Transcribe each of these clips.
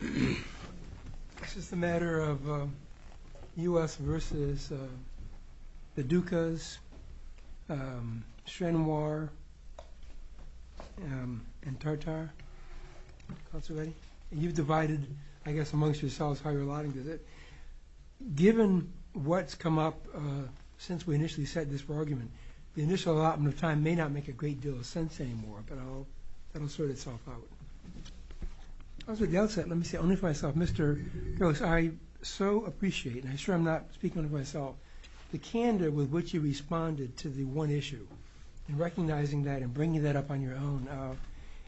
It's just a matter of U.S. v. the Dukas, Chenoir, and Tartar, and you've divided, I guess, amongst yourselves how you're aligning with it. Given what's come up since we initially set this argument, the initial allotment of time may not make a great deal of sense anymore, but I'll sort itself out. Mr. Brooks, I so appreciate, and I'm sure I'm not speaking for myself, the candor with which you responded to the one issue and recognizing that and bringing that up on your own.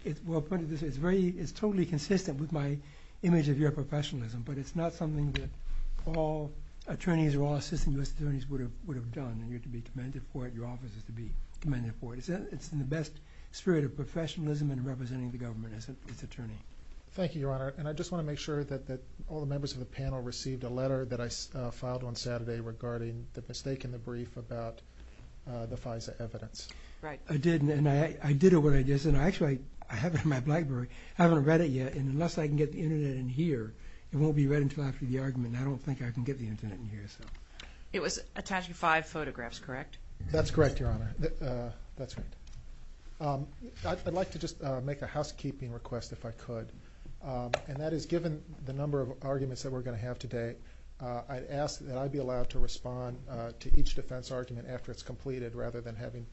It's totally consistent with my image of your professionalism, but it's not something that all attorneys or your office is to be commending for. It's in the best spirit of professionalism and representing the government as its attorney. Mr. Brooks, thank you, Your Honor, and I just want to make sure that all the members of the panel received a letter that I filed on Saturday regarding the mistake in the brief about the FISA evidence. Ms. Brooks, Right. Mr. Brooks, I did, and I did what I did, and actually, I have it in my library. I haven't read it yet, and unless I can get the Internet in here, it won't be read until after the argument, and I don't think I can get the Internet in here, so. It was attached to five photographs, correct? That's correct, Your Honor. That's right. I'd like to just make a housekeeping request if I could, and that is given the number of arguments that we're going to have today, I'd ask that I be allowed to respond to each defense argument after it's completed rather than having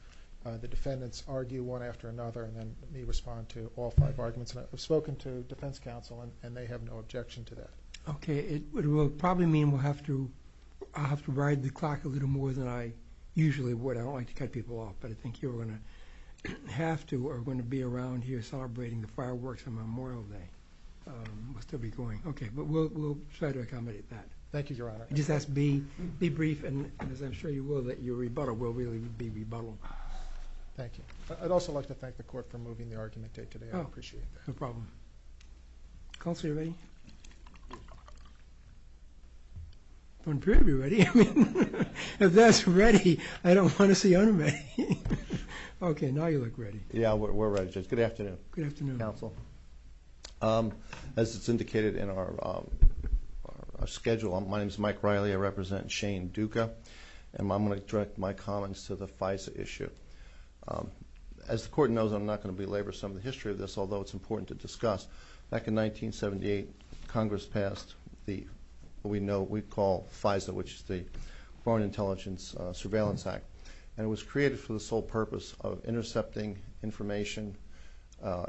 the defendants argue one after another and then me respond to all five arguments, and I've spoken to the defense counsel, and they have no objection to that. Okay. It will probably mean I'll have to ride the clock a little more than I usually would. I don't like to cut people off, but I think you're going to have to or are going to be around here celebrating the fireworks on Memorial Day. We'll still be going. Okay. But we'll try to accommodate that. Thank you, Your Honor. Just ask to be brief, and as I'm sure you will, that your rebuttal will really be rebuttaled. Thank you. I'd also like to thank the Court for moving the argument today. I appreciate it. No problem. Counselor Lee? I'm going to be ready. If that's ready, I don't want to see unready. Okay, now you look ready. Yeah, we're ready. Good afternoon, counsel. As it's indicated in our schedule, my name's Mike Riley. I represent Shane Duca, and I'm going to direct my comments to the FISA issue. As the Court knows, I'm not going to belabor some of the history of this, although it's important to discuss. Back in 1978, Congress passed what we know we call FISA, which is the Foreign Intelligence Surveillance Act, and it was created for the sole purpose of intercepting information,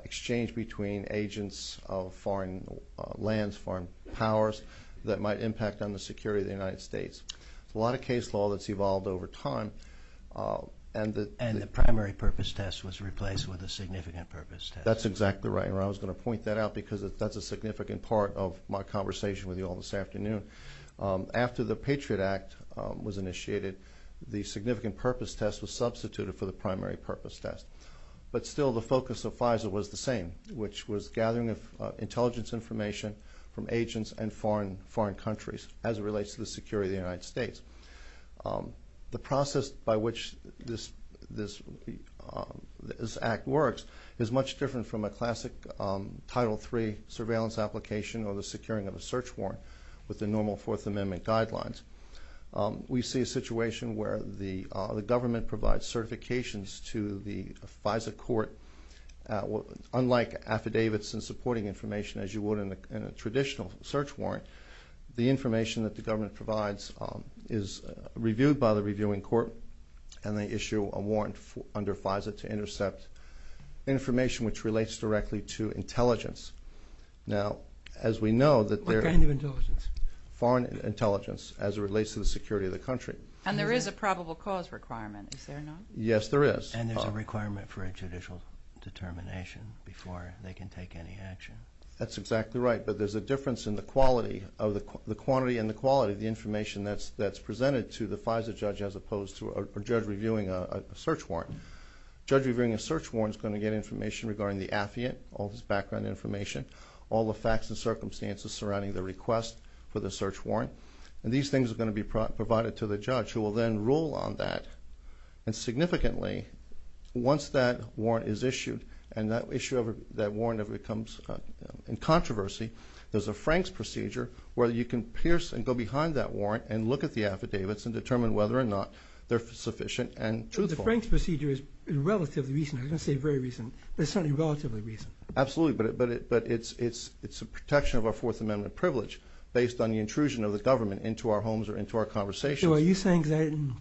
exchange between agents of foreign lands, foreign powers that might impact on the security of the United States. A lot of case law that's evolved over time. And the primary purpose test was replaced with a significant purpose test. That's exactly right, and I was going to point that out because that's a significant part of my conversation with you all this afternoon. After the Patriot Act was initiated, the significant purpose test was substituted for the primary purpose test. But still, the focus of FISA was the same, which was gathering intelligence information from agents and foreign countries as it relates to the security of the United States. The process by which this act works is much different from a classic Title III surveillance application or the securing of a search warrant with the normal Fourth Amendment guidelines. We see a situation where the government provides certifications to the FISA Court. Unlike affidavits and supporting information as you would in a traditional search warrant, the information that the government provides is reviewed by the reviewing court, and they issue a warrant under FISA to intercept information which relates directly to intelligence. Now, as we know that there... What kind of intelligence? Foreign intelligence as it relates to the security of the country. And there is a probable cause requirement, is there not? Yes, there is. And there's a requirement for judicial determination before they can take any action. That's exactly right, but there's a difference in the quality of the quantity and the quality of the information that's presented to the FISA judge as opposed to a judge reviewing a search warrant. A judge reviewing a search warrant is going to get information regarding the affidavit, all of his background information, all the facts and circumstances surrounding the request for the search warrant, and these things are going to be provided to the judge who will then rule on that. And significantly, once that warrant is issued, and that issue of that warrant becomes in controversy, there's a Frank's procedure where you can pierce and go behind that warrant and look at the affidavits and determine whether or not they're sufficient and truthful. The Frank's procedure is relatively recent. I'm going to say very recent, but it's certainly relatively recent. Absolutely, but it's a protection of our Fourth Amendment privilege based on the intrusion of the government into our homes or into our conversations. So are you saying that, and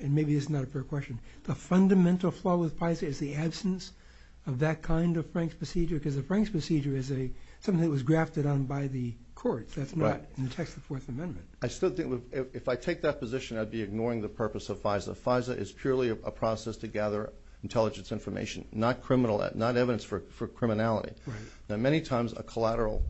maybe this is not a fair question, the fundamental flaw with FISA is the absence of that kind of Frank's procedure? Because the Frank's procedure is something that the courts have done, so it's not in the text of the Fourth Amendment. I still think, if I take that position, I'd be ignoring the purpose of FISA. FISA is purely a process to gather intelligence information, not evidence for criminality. Now, many times, a collateral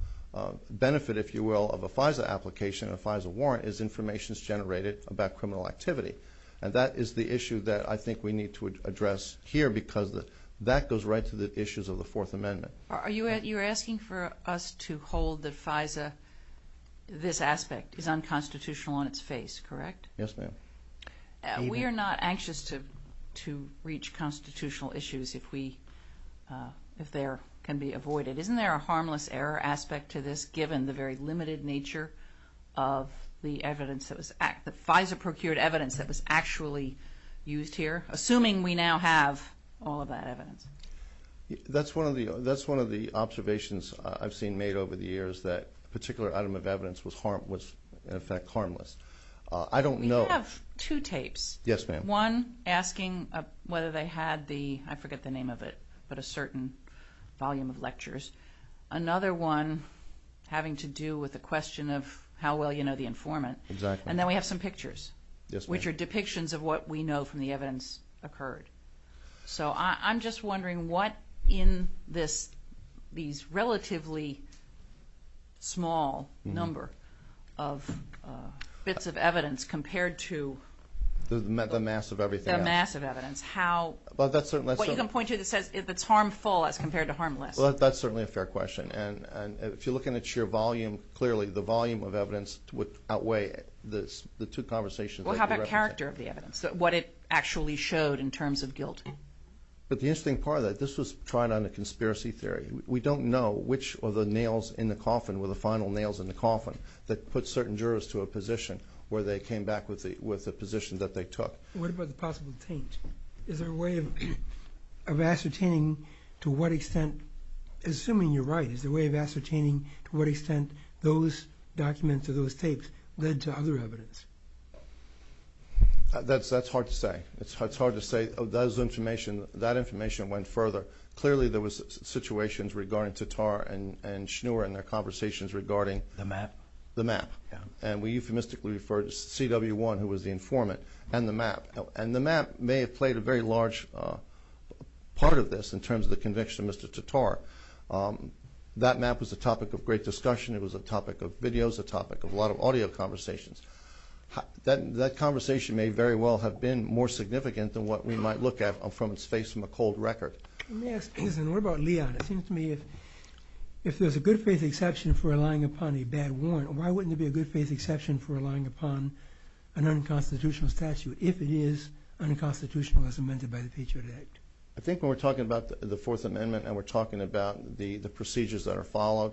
benefit, if you will, of a FISA application, a FISA warrant, is information generated about criminal activity. And that is the issue that I think we need to address here because that goes right to the issues of the Fourth Amendment. You're asking for us to hold that FISA, this aspect, is unconstitutional on its face, correct? Yes, ma'am. We are not anxious to reach constitutional issues if they can be avoided. Isn't there a harmless error aspect to this, given the very limited nature of the evidence that was – that FISA procured evidence that was actually used here, assuming we now have all of that evidence? That's one of the observations I've seen made over the years, that a particular item of evidence was, in effect, harmless. I don't know – You have two tapes. Yes, ma'am. One asking whether they had the – I forget the name of it, but a certain volume of lectures. Another one having to do with the question of how well you know the informant. Exactly. And then we have some pictures, which are depictions of what we know from the evidence occurred. So I'm just wondering what in this – these relatively small number of bits of evidence compared to – The mass of everything. The mass of evidence. How – Well, that's – What you can point to that says it's harmful as compared to harmless. Well, that's certainly a fair question. And if you're looking at your volume, how about character of the evidence, what it actually showed in terms of guilt? But the interesting part of that – this was tried on a conspiracy theory. We don't know which of the nails in the coffin were the final nails in the coffin that put certain jurors to a position where they came back with the position that they took. What about the possible paint? Is there a way of ascertaining to what extent – assuming you're right – is there a way of ascertaining to what extent those documents or those tapes led to other evidence? That's hard to say. It's hard to say. Those information – that information went further. Clearly, there was situations regarding Tatar and Schnur and their conversations regarding – The map. The map. And we euphemistically refer to CW1, who was the informant, and the map. And the map may have played a very large part of this in terms of the conviction of Mr. Tatar. That map was a topic of great discussion. It was a topic of videos, a topic of a lot of audio conversations. That conversation may very well have been more significant than what we might look at from Space McCold's record. Let me ask, what about Leon? It seems to me if there's a good faith exception for relying upon a bad warrant, why wouldn't there be a good faith exception for relying upon an unconstitutional statute if it is unconstitutional as amended by the Patriot Act? I think when we're talking about the Fourth Amendment and we're talking about the procedures that are followed,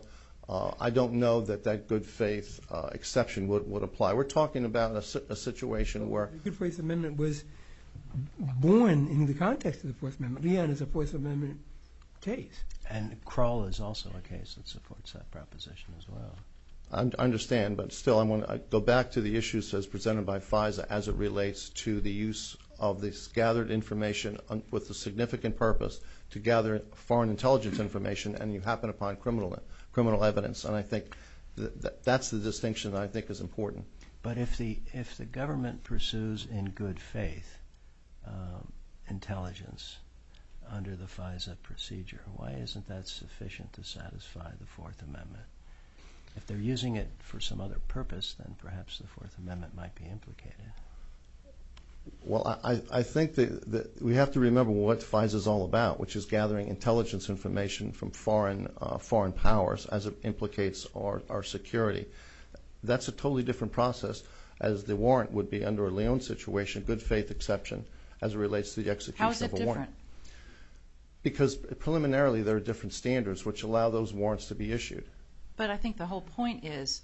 I don't know that that good faith exception would apply. We're talking about a situation where – The good faith amendment was born in the context of the Fourth Amendment. Leon, it's a Fourth Amendment case. And Kroll is also a case that supports that proposition as well. I understand, but still I want to go back to the issues as presented by FISA as it relates to the use of this gathered information with the significant purpose to gather foreign intelligence information and you happen upon criminal evidence. And I think that's the – but if the government pursues in good faith intelligence under the FISA procedure, why isn't that sufficient to satisfy the Fourth Amendment? If they're using it for some other purpose, then perhaps the Fourth Amendment might be implicated. Well, I think that we have to remember what FISA is all about, which is gathering intelligence information from foreign powers as it implicates our security. That's a totally different process as the warrant would be under a Leon situation, good faith exception, as it relates to the execution of a warrant. How is that different? Because preliminarily there are different standards which allow those warrants to be issued. But I think the whole point is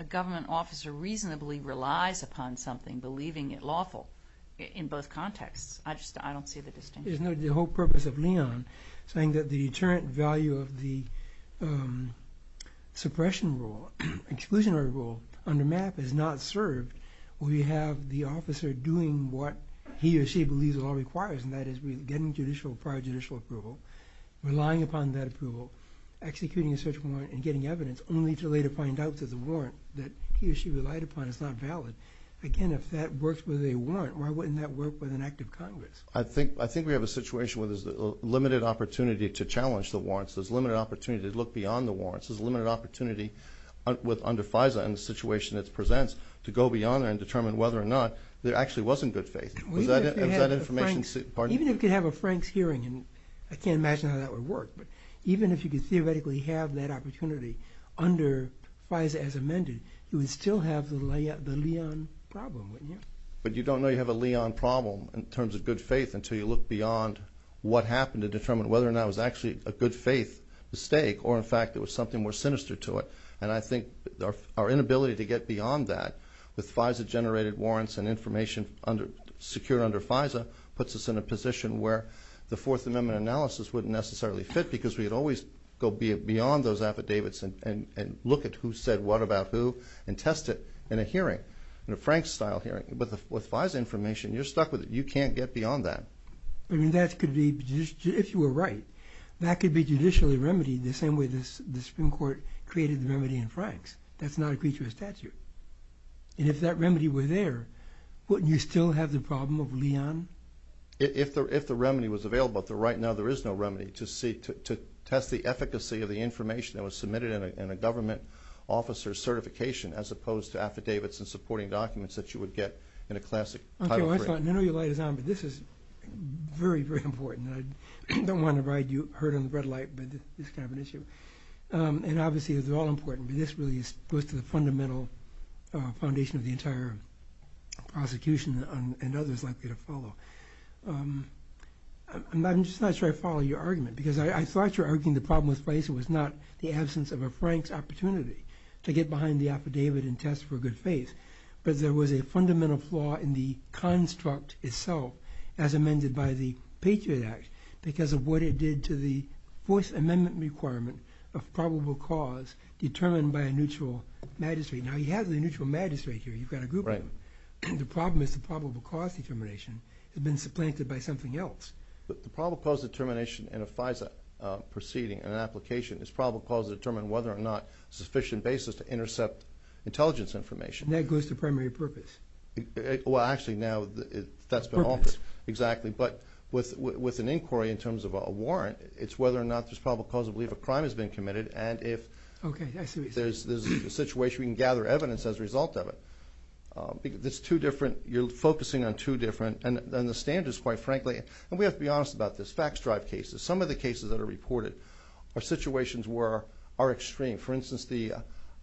a government officer reasonably relies upon something, believing it lawful in both contexts. I just – I don't see the distinction. Isn't that the whole purpose of Leon, saying that the deterrent value of the suppression rule, exclusionary rule, on the map is not served? We have the officer doing what he or she believes it all requires, and that is getting judicial – prior judicial approval, relying upon that approval, executing a search warrant, and getting evidence, only to later find out that the warrant that he or she relied upon is not valid. Again, if that works with a warrant, why wouldn't that work with an act of Congress? I think we have a situation where there's limited opportunity to challenge the warrants. There's limited opportunity to look beyond the warrants. There's limited opportunity with – under FISA and the situation it presents to go beyond that and determine whether or not there actually wasn't good faith. Even if you have a frank hearing – I can't imagine how that would work, but even if you could theoretically have that opportunity under FISA as amended, you would still have the Leon problem, wouldn't you? But you don't know you have a Leon problem in terms of good faith until you look beyond what happened to determine whether or not it was actually a good faith mistake or, in fact, it was something more sinister to it. And I think our inability to get beyond that with FISA-generated warrants and information secured under FISA puts us in a position where the Fourth Amendment analysis wouldn't necessarily fit because we'd always go beyond those affidavits and look at who said what about who and test it in a hearing, in a Frank-style hearing. But with FISA information, you're stuck with it. You can't get beyond that. I mean, that could be – if you were right, that could be judicially remedied the same way the Supreme Court created the remedy in Franks. That's not a creature of statute. And if that remedy were there, wouldn't you still have the problem of Leon? If the remedy was available, but right now there is no remedy to test the efficacy of the information that was submitted in a government officer's certification as opposed to affidavits and supporting documents that you would get in a classic – I thought – I know your light is on, but this is very, very important. I don't want to ride you hurt on the red light, but it's kind of an issue. And obviously, they're all important, but this really goes to the fundamental foundation of the entire prosecution and others likely to follow. And I'm just not sure I follow your argument because I thought you were arguing the problem with FISA was not the absence of a Frank opportunity to get behind the affidavit and test for good faith, but there was a fundamental flaw in the construct itself as amended by the Patriot Act because of what it did to the Fourth Amendment requirement of probable cause determined by a neutral magistrate. Now, you have the neutral magistrate here. You've got a group of them. The problem is the probable cause determination has been supplanted by something else. The probable cause determination in a FISA proceeding and application is probable to determine whether or not it's a sufficient basis to intercept intelligence information. And that goes to primary purpose. Well, actually, now, that's been office. Exactly. But with an inquiry in terms of a warrant, it's whether or not there's probable cause to believe a crime has been committed, and if there's a situation, we can gather evidence as a result of it. There's two different – you're focusing on two different – and the standards, quite frankly – and we have to be honest about this – fact-stripe cases. Some of the cases that are reported are situations where – are extreme. For instance, the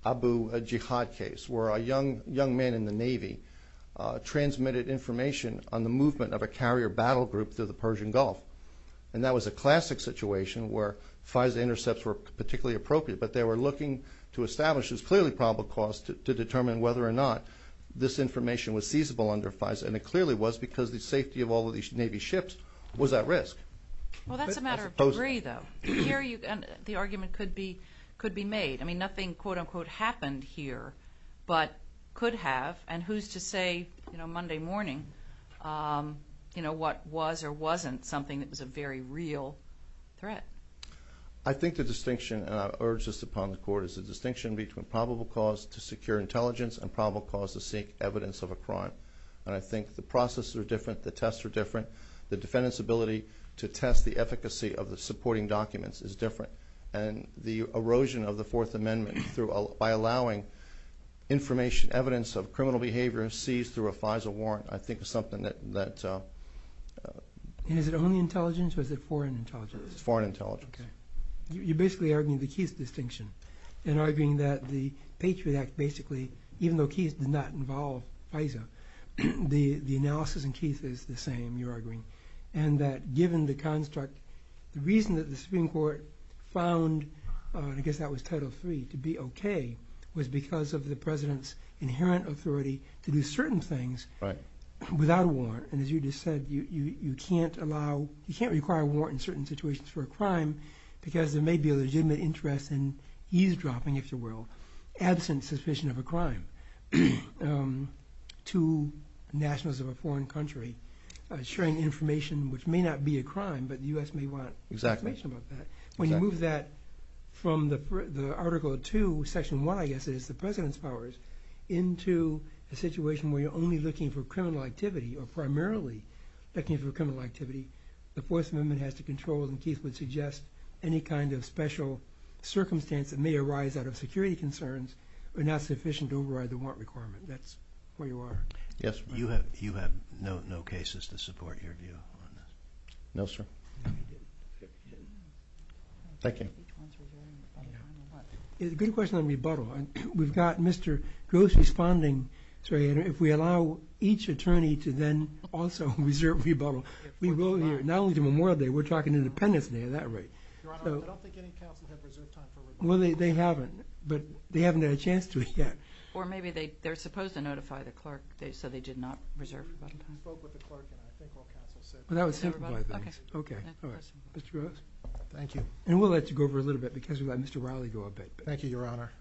Abu Jihad case, where a young man in the Navy transmitted information on the movement of a carrier battle group to the Persian Gulf. And that was a classic situation where FISA intercepts were particularly appropriate, but they were looking to establish there's clearly probable cause to determine whether or not this information was feasible under FISA. And it clearly was because the safety of all of these Navy ships was at risk. Well, that's a matter of degree, though. The argument could be – could be made. I mean, nothing, quote-unquote, happened here, but could have. And who's to say, Monday morning, what was or wasn't something that was a very real threat? I think the distinction urges upon the court is the distinction between probable cause to secure intelligence and probable cause to seek evidence of a crime. And I think the processes are different, the tests are different. The defendant's ability to test the efficacy of supporting documents is different. And the erosion of the Fourth Amendment through – by allowing information, evidence of criminal behavior seized through a FISA warrant, I think is something that Is it only intelligence or is it foreign intelligence? Foreign intelligence. You're basically arguing the Keith distinction and arguing that the Patriot Act basically, even though Keith did not involve FISA, the analysis in Keith is the same, you're arguing. And that given the construct, the reason that the Supreme Court found – I guess that was Title III – to be okay was because of the President's inherent authority to do certain things without a warrant. And as you just said, you can't allow – you can't require a warrant in certain situations for a crime because there may be a legitimate interest in eavesdropping, if you will, absent suspicion of a crime to nationals of a foreign country, sharing information which may not be a crime but the U.S. may want information about that. Exactly. When you move that from the Article 2, Section 1, I guess it is, the President's powers into a situation where you're only looking for criminal activity or primarily looking for criminal activity, the Fourth Amendment has to control, and Keith would suggest, any kind of special circumstance that may arise out of security concerns are not sufficient to override the warrant requirement. That's where you are. Yes, you have no cases to support your view on that. No, sir. Thank you. It's a good question on rebuttal. We've got Mr. Gross responding, so if we allow each attorney to then also reserve rebuttal, we will – not only do we memorial there, we're talking independently at that rate. Your Honor, I don't think any counsel has reserved time for rebuttal. Well, they haven't, but they haven't had a chance to yet. Or maybe they're supposed to notify the clerk, so they did not reserve rebuttal. I spoke with the clerk, and I think I'll count to six. Well, that would simplify things. Okay. Thank you. And we'll let you go over a little bit, because we've got Mr. Riley to go a bit. Thank you, Your Honor.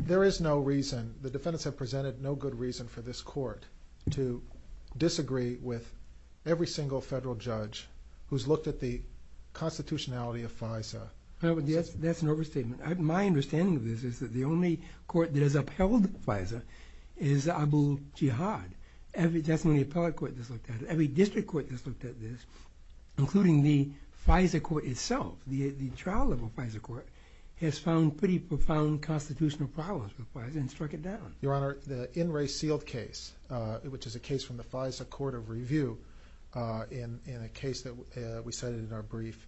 There is no reason – the defendants have presented no good reason for this Court to disagree with every single federal judge who's looked at the constitutionality of FISA. That's an overstatement. My understanding of this is that the only court that has upheld FISA is Abu Jihad. Every – definitely every appellate court has looked at it. Every district court has looked at this, including the FISA Court itself. The trial of the FISA Court has found pretty profound constitutional problems with FISA and struck it down. Your Honor, the In Re Sealed case, which is a case from the FISA Court of Review in a case that we cited in our brief,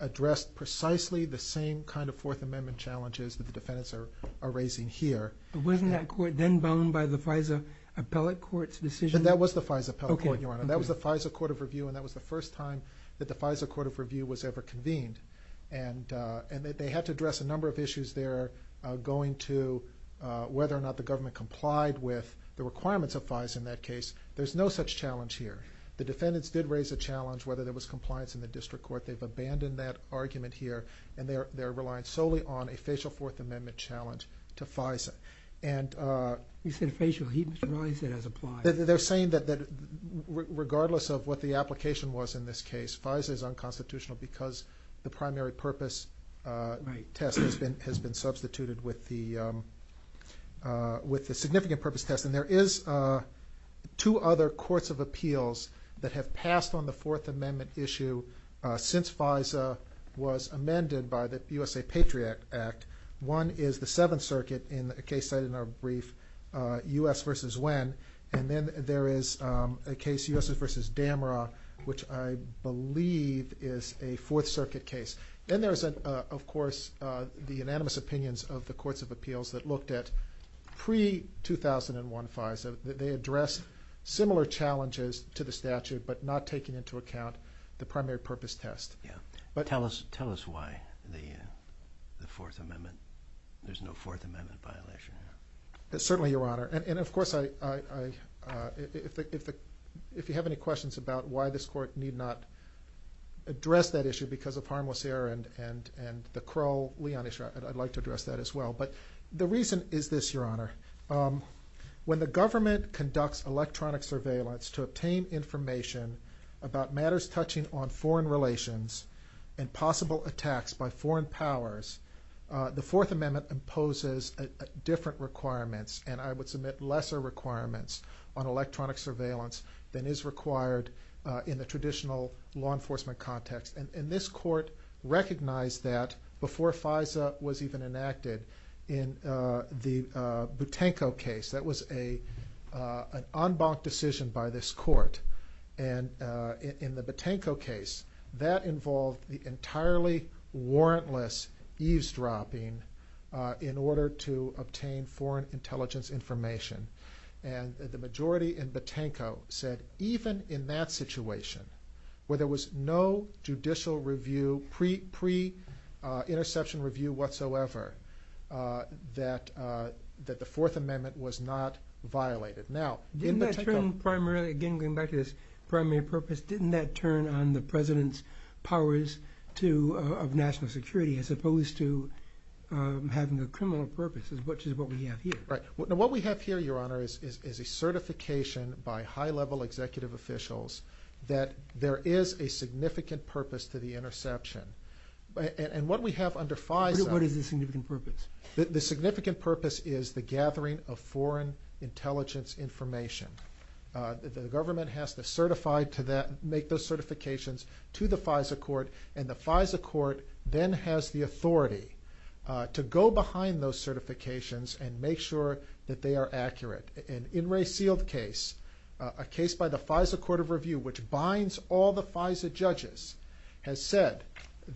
addressed precisely the same kind of Fourth Amendment challenges that the defendants are raising here. But wasn't that court then boned by the FISA appellate court's decision? That was the FISA appellate court, Your Honor. And that was the FISA Court of Review, and that was the first time that the FISA Court of Review was ever convened. And they had to address a number of issues there going to whether or not the government complied with the requirements of FISA in that case. There's no such challenge here. The defendants did raise a challenge whether there was compliance in the district court. They've abandoned that argument here, and they're relying solely on a facial Fourth Amendment challenge to FISA. And – You said facial. He was the one that said it was applied. They're saying that regardless of what the application was in this case, FISA is unconstitutional because the primary purpose test has been substituted with the significant purpose test. There is two other courts of appeals that have passed on the Fourth Amendment issue since FISA was amended by the U.S. Patriot Act. One is the Seventh Circuit in a brief U.S. versus when, and then there is a case, U.S. versus Damara, which I believe is a Fourth Circuit case. Then there is, of course, the unanimous opinions of the courts of appeals that looked at pre-2001 FISA. They addressed similar challenges to the statute but not taking into account the primary purpose test. Tell us why the Fourth Amendment – there's no Fourth Amendment violation here. Certainly, Your Honor. And, of course, if you have any questions about why this court need not address that issue because of harmless error and the Crow-Leon issue, I'd like to address that as well. But the reason is this, Your Honor. When the government conducts electronic surveillance to obtain information about matters touching on foreign relations and possible attacks by foreign powers, the Fourth Amendment imposes different requirements, and I would submit lesser requirements on electronic surveillance than is required in the traditional law enforcement context. And this court recognized that before FISA was even enacted in the Butenko case. That was an en banc decision by this court. And in the Butenko case, that involved the entirely warrantless eavesdropping in order to obtain foreign intelligence information. And the majority in Butenko said even in that situation, where there was no judicial review, pre-interception review whatsoever, that the Fourth Amendment was not violated. Now, in Butenko… Didn't that turn primary – getting back to this primary purpose – didn't that turn on the President's powers of national security as opposed to having a criminal purpose, which is what we have here? Right. What we have here, Your Honor, is a certification by high-level executive officials that there is a significant purpose to the interception. And what we have under FISA… What is the significant purpose? The significant purpose is the gathering of foreign intelligence information. The government has to certify to that, make those certifications to the FISA court, and the FISA court then has the authority to go behind those certifications and make sure that they are accurate. An In re sealed case, a case by the FISA Court of Review, which binds all the FISA judges, has said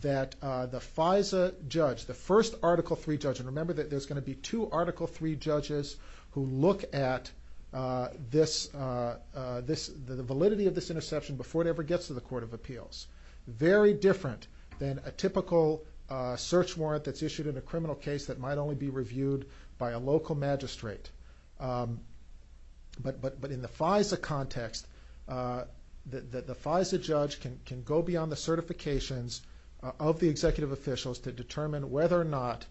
that the FISA judge, the first Article III judge – and remember that there's going to be two Article III judges who look at the validity of this interception before it ever gets to the Court of Search warrant that's issued in a criminal case that might only be reviewed by a local magistrate. But in the FISA context, the FISA judge can go beyond the certifications of the executive officials to determine whether or not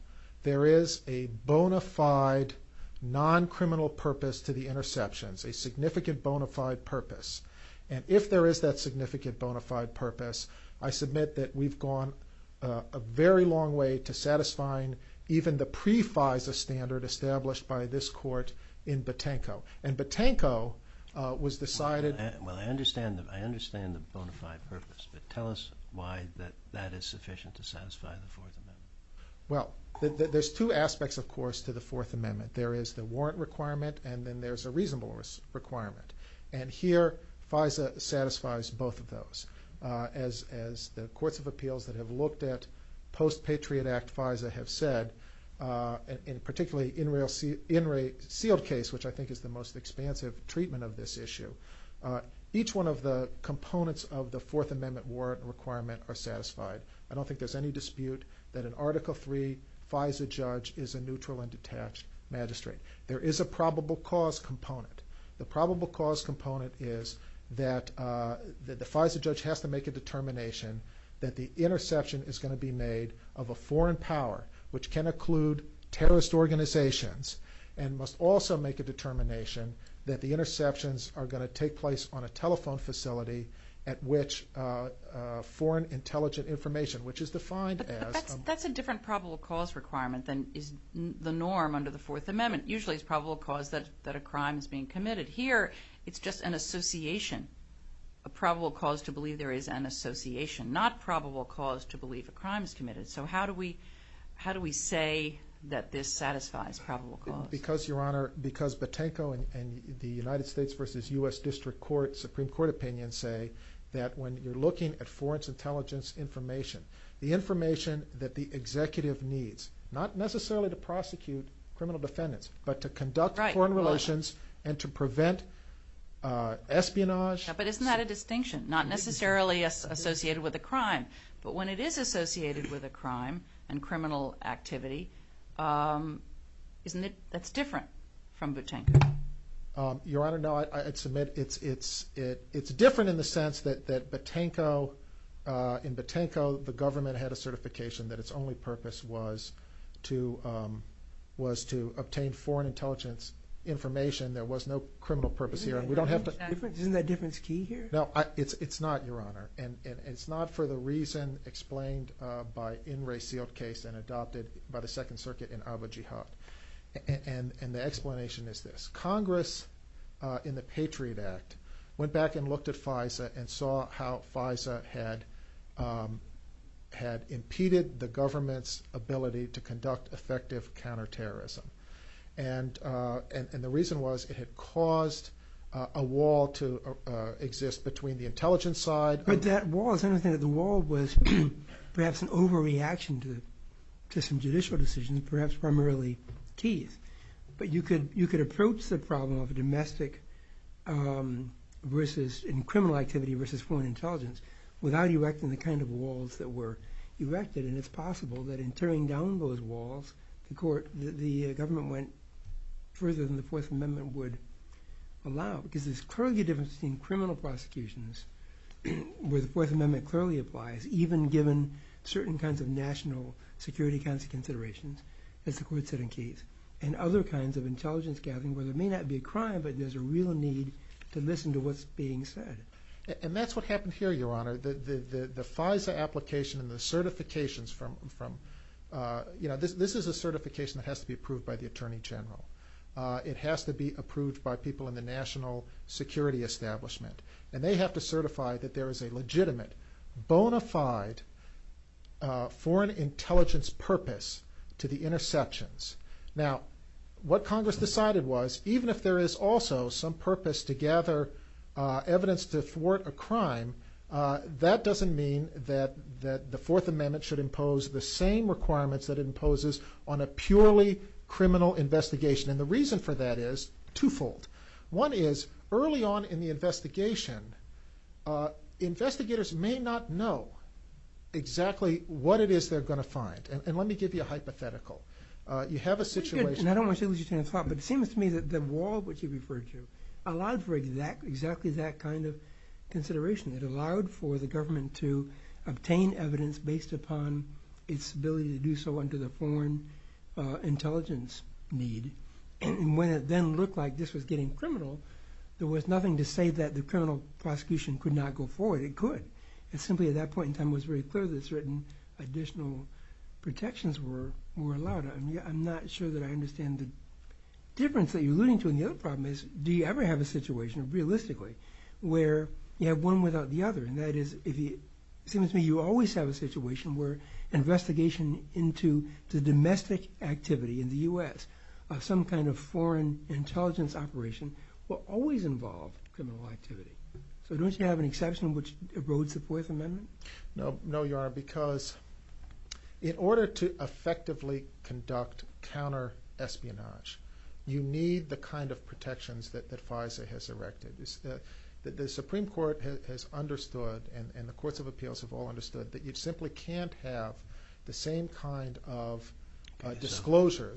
there is a bona fide, non-criminal purpose to the interceptions, a significant bona fide purpose. And if there is that significant bona fide purpose, I submit that we've gone a very long way to satisfying even the pre-FISA standard established by this court in Botanko. And Botanko was decided – Well, I understand the bona fide purpose, but tell us why that is sufficient to satisfy the Fourth Amendment. Well, there's two aspects, of course, to the Fourth Amendment. There is the warrant requirement and then there's a reasonable requirement. And here, FISA satisfies both of those. As the courts of appeals that have looked at post-Patriot Act FISA have said, and particularly in a sealed case, which I think is the most expansive treatment of this issue, each one of the components of the Fourth Amendment warrant requirement are satisfied. I don't think there's any dispute that an Article III FISA judge is a probable cause component. The probable cause component is that the FISA judge has to make a determination that the interception is going to be made of a foreign power, which can include terrorist organizations, and must also make a determination that the interceptions are going to take place on a telephone facility at which foreign intelligent information, which is defined as – But that's a different probable cause requirement than the norm under the Fourth that a crime is being committed. Here, it's just an association. A probable cause to believe there is an association. Not probable cause to believe a crime is committed. So how do we say that this satisfies probable cause? Because, Your Honor, because Botenko and the United States versus U.S. District Supreme Court opinion say that when you're looking at foreign intelligence information, the information that the executive needs, not necessarily to prosecute criminal defendants, but to conduct foreign relations and to prevent espionage. But isn't that a distinction? Not necessarily associated with a crime. But when it is associated with a crime and criminal activity, isn't it – that's different from Botenko? Your Honor, no, I submit it's different in the sense that Botenko – in Botenko, the government had a certification that its only purpose was to obtain foreign intelligence information. There was no criminal purpose here. And we don't have to – Isn't that difference key here? No, it's not, Your Honor. And it's not for the reason explained by N. Ray Seale's case and adopted by the Second Circuit and Abu Jihad. And the explanation is this. Congress in the Patriot Act went back and looked at FISA and saw how FISA had impeded the government's ability to conduct effective counterterrorism. And the reason was it had caused a wall to exist between the intelligence side – But that wall – the wall was perhaps an overreaction to some judicial decision, perhaps primarily Keith. But you could approach the problem of domestic crime versus – and criminal activity versus foreign intelligence without erecting the kind of walls that were erected. And it's possible that in tearing down those walls, the government went further than the Fourth Amendment would allow, because there's clearly a difference between criminal prosecutions, where the Fourth Amendment clearly applies, even given certain kinds of national security kinds of considerations, as the Court said in Keith, and other kinds of need to listen to what's being said. And that's what happened here, Your Honor. The FISA application and the certifications from – this is a certification that has to be approved by the Attorney General. It has to be approved by people in the national security establishment. And they have to certify that there is a legitimate, bona fide foreign intelligence purpose to the interceptions. Now, what Congress decided was, even if there is also some purpose to gather evidence to thwart a crime, that doesn't mean that the Fourth Amendment should impose the same requirements that it imposes on a purely criminal investigation. And the reason for that is twofold. One is, early on in the investigation, investigators may not know exactly what it is they're going to find. And let me give you a hypothetical. You have a situation – I don't want to say what you're trying to talk about, but it seems to me that the wall, which you referred to, allowed for exactly that kind of consideration. It allowed for the government to obtain evidence based upon its ability to do so under the foreign intelligence need. And when it then looked like this was getting criminal, there was nothing to say that the criminal prosecution could not go forward. It could. It simply, at that point in time, was very clear that certain additional protections were allowed. I'm not sure that I understand the difference that you're alluding to in the other problem is, do you ever have a situation, realistically, where you have one without the other? And that is, it seems to me, you always have a situation where an investigation into the domestic activity in the U.S., some kind of foreign intelligence operation, will always involve criminal activity. So don't you have an exception which erodes the FOIA's amendment? No, no, your honor, because in order to effectively conduct counter-espionage, you need the kind of protections that FISA has erected. The Supreme Court has understood, and the courts of appeals have all understood, that you simply can't have the same kind of So this falls under the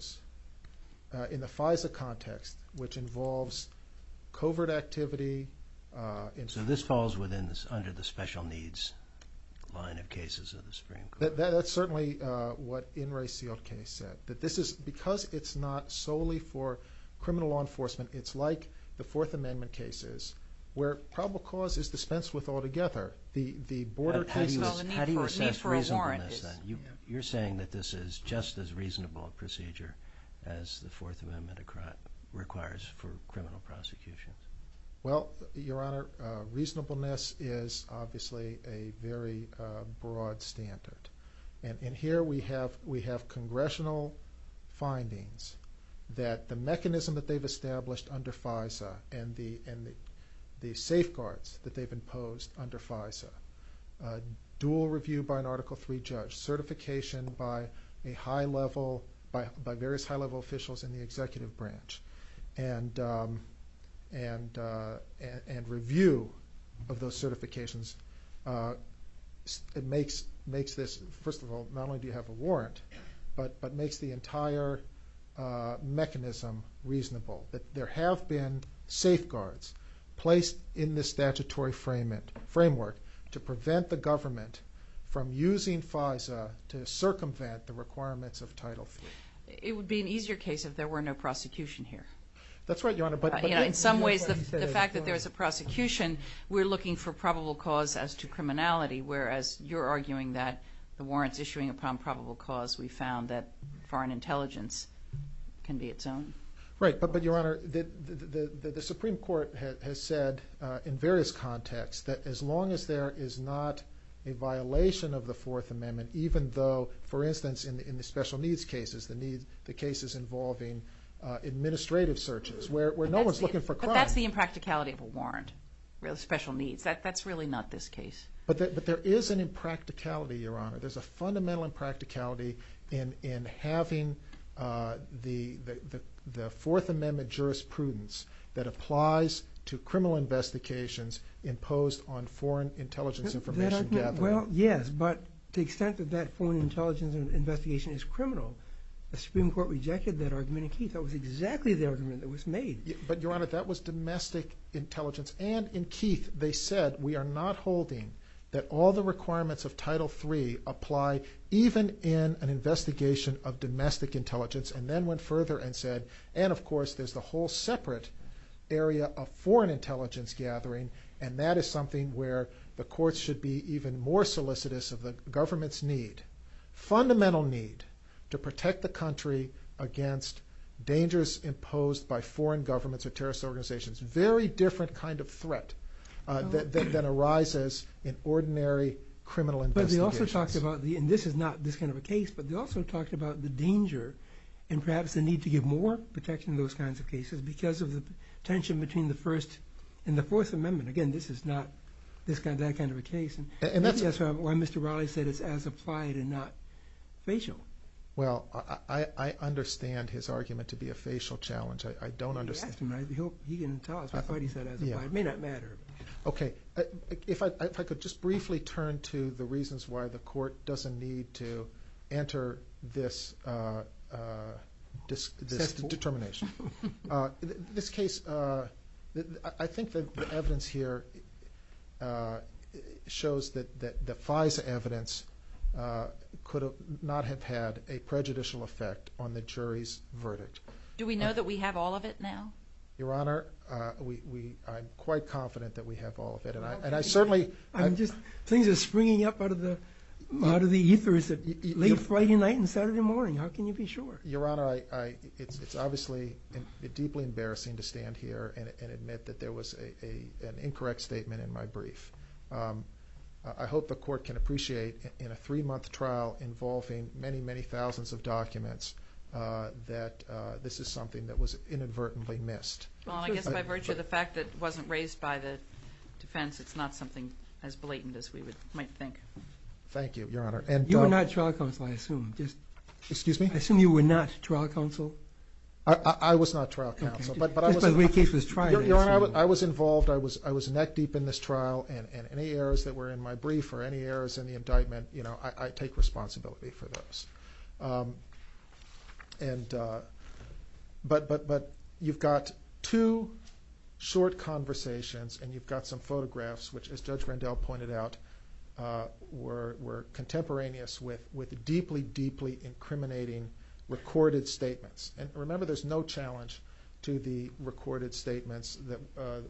special needs line of cases of the Supreme Court? That's certainly what In re Sealed Case said, that this is, because it's not solely for criminal law enforcement, it's like the Fourth Amendment cases, where probable cause is dispensed with altogether. The border... How do you assess reason for this then? You're saying that this is just as reasonable a procedure as the Fourth Amendment requires for criminal prosecutions. Well, your honor, reasonableness is obviously a very broad standard. And here we have congressional findings that the mechanism that they've established under FISA and the safeguards that they've imposed under FISA, dual review by an Article III judge, certification by high-level, by various high-level officials in the executive branch, and review of those certifications. It makes this, first of all, not only do you have a warrant, but makes the entire mechanism reasonable, that there have been safeguards placed in the statutory framework to prevent the government from using FISA to circumvent the requirements of Title III. It would be an easier case if there were no prosecution here. That's right, your honor, but... In some ways, the fact that there's a prosecution, we're looking for probable cause as to criminality, whereas you're arguing that the warrants issuing upon probable cause, we found that foreign intelligence can be its own. Right, but your honor, the Supreme Court has said in various contexts that as long as there is not a violation of the Fourth Amendment, even though, for instance, in the special needs cases, the cases involving administrative searches, where no one's looking for crime... But that's the impracticality of a warrant, real special needs. That's really not this case. But there is an impracticality, your honor. There's a fundamental impracticality in having the Fourth Amendment jurisprudence that applies to criminal investigations imposed on foreign intelligence information gathering. Well, yes, but to the extent that that foreign intelligence investigation is criminal, the Supreme Court rejected that argument in Keith. That was exactly the argument that was made. But your honor, that was domestic intelligence. And in Keith, they said, we are not holding that all the requirements of Title III apply even in an investigation of domestic intelligence. And then went further and said, and of course, there's the whole separate area of foreign intelligence gathering. And that is something where the courts should be even more solicitous of the government's need, fundamental need, to protect the country against dangers imposed by foreign governments or terrorist organizations, very different kind of threat that arises in ordinary criminal investigations. They also talked about, and this is not this kind of a case, but they also talked about the danger and perhaps the need to give more protection to those kinds of cases because of the tension between the First and the Fourth Amendment. Again, this is not that kind of a case. And that's why Mr. Raleigh said it's as applied and not facial. Well, I understand his argument to be a facial challenge. I don't understand. You can ask him. He can tell us what he said as applied. It may not matter. Okay. If I could just briefly turn to the reasons why the court doesn't need to enter this determination. This case, I think the evidence here shows that the FISA evidence could not have had a prejudicial effect on the jury's verdict. Do we know that we have all of it now? Your Honor, I'm quite confident that we have all of it. I'm just thinking of springing up out of the ethers late Friday night and Saturday morning. How can you be sure? Your Honor, it's obviously deeply embarrassing to stand here and admit that there was an incorrect statement in my brief. I hope the court can appreciate in a three-month trial involving many, many thousands of documents that this is something that was inadvertently missed. Well, I guess by virtue of the fact that it wasn't raised by the defense, it's not something as blatant as we might think. Thank you, Your Honor. You were not trial counsel, I assume. Excuse me? I assume you were not trial counsel. I was not trial counsel. But I was involved. I was neck deep in this trial. And any errors that were in my brief or any errors in the indictment, I take responsibility for those. But you've got two short conversations and you've got some photographs which, as Judge Rendell pointed out, were contemporaneous with deeply, deeply incriminating recorded statements. Remember, there's no challenge to the recorded statements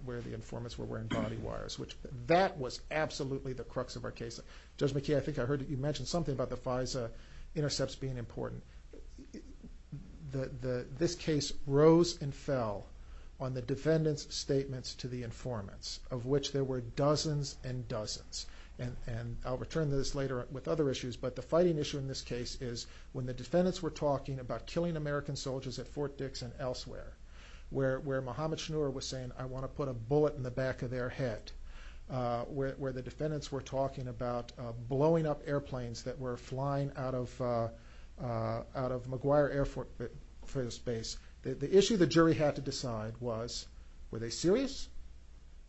where the informants were wearing body wires. That was absolutely the crux of our case. Judge McKee, I think I heard you mention something about the FISA intercepts being important. This case rose and fell on the defendant's statements to the informants, of which there were dozens and dozens. And I'll return to this later with other issues, but the fighting issue in this case is when the defendants were talking about killing American soldiers at Fort Dix and elsewhere, where Mohamed Shnur was saying, I want to put a bullet in the back of their head, where the defendants were talking about blowing up airplanes that were flying out of McGuire Air Force Base. The issue the jury had to decide was, were they serious?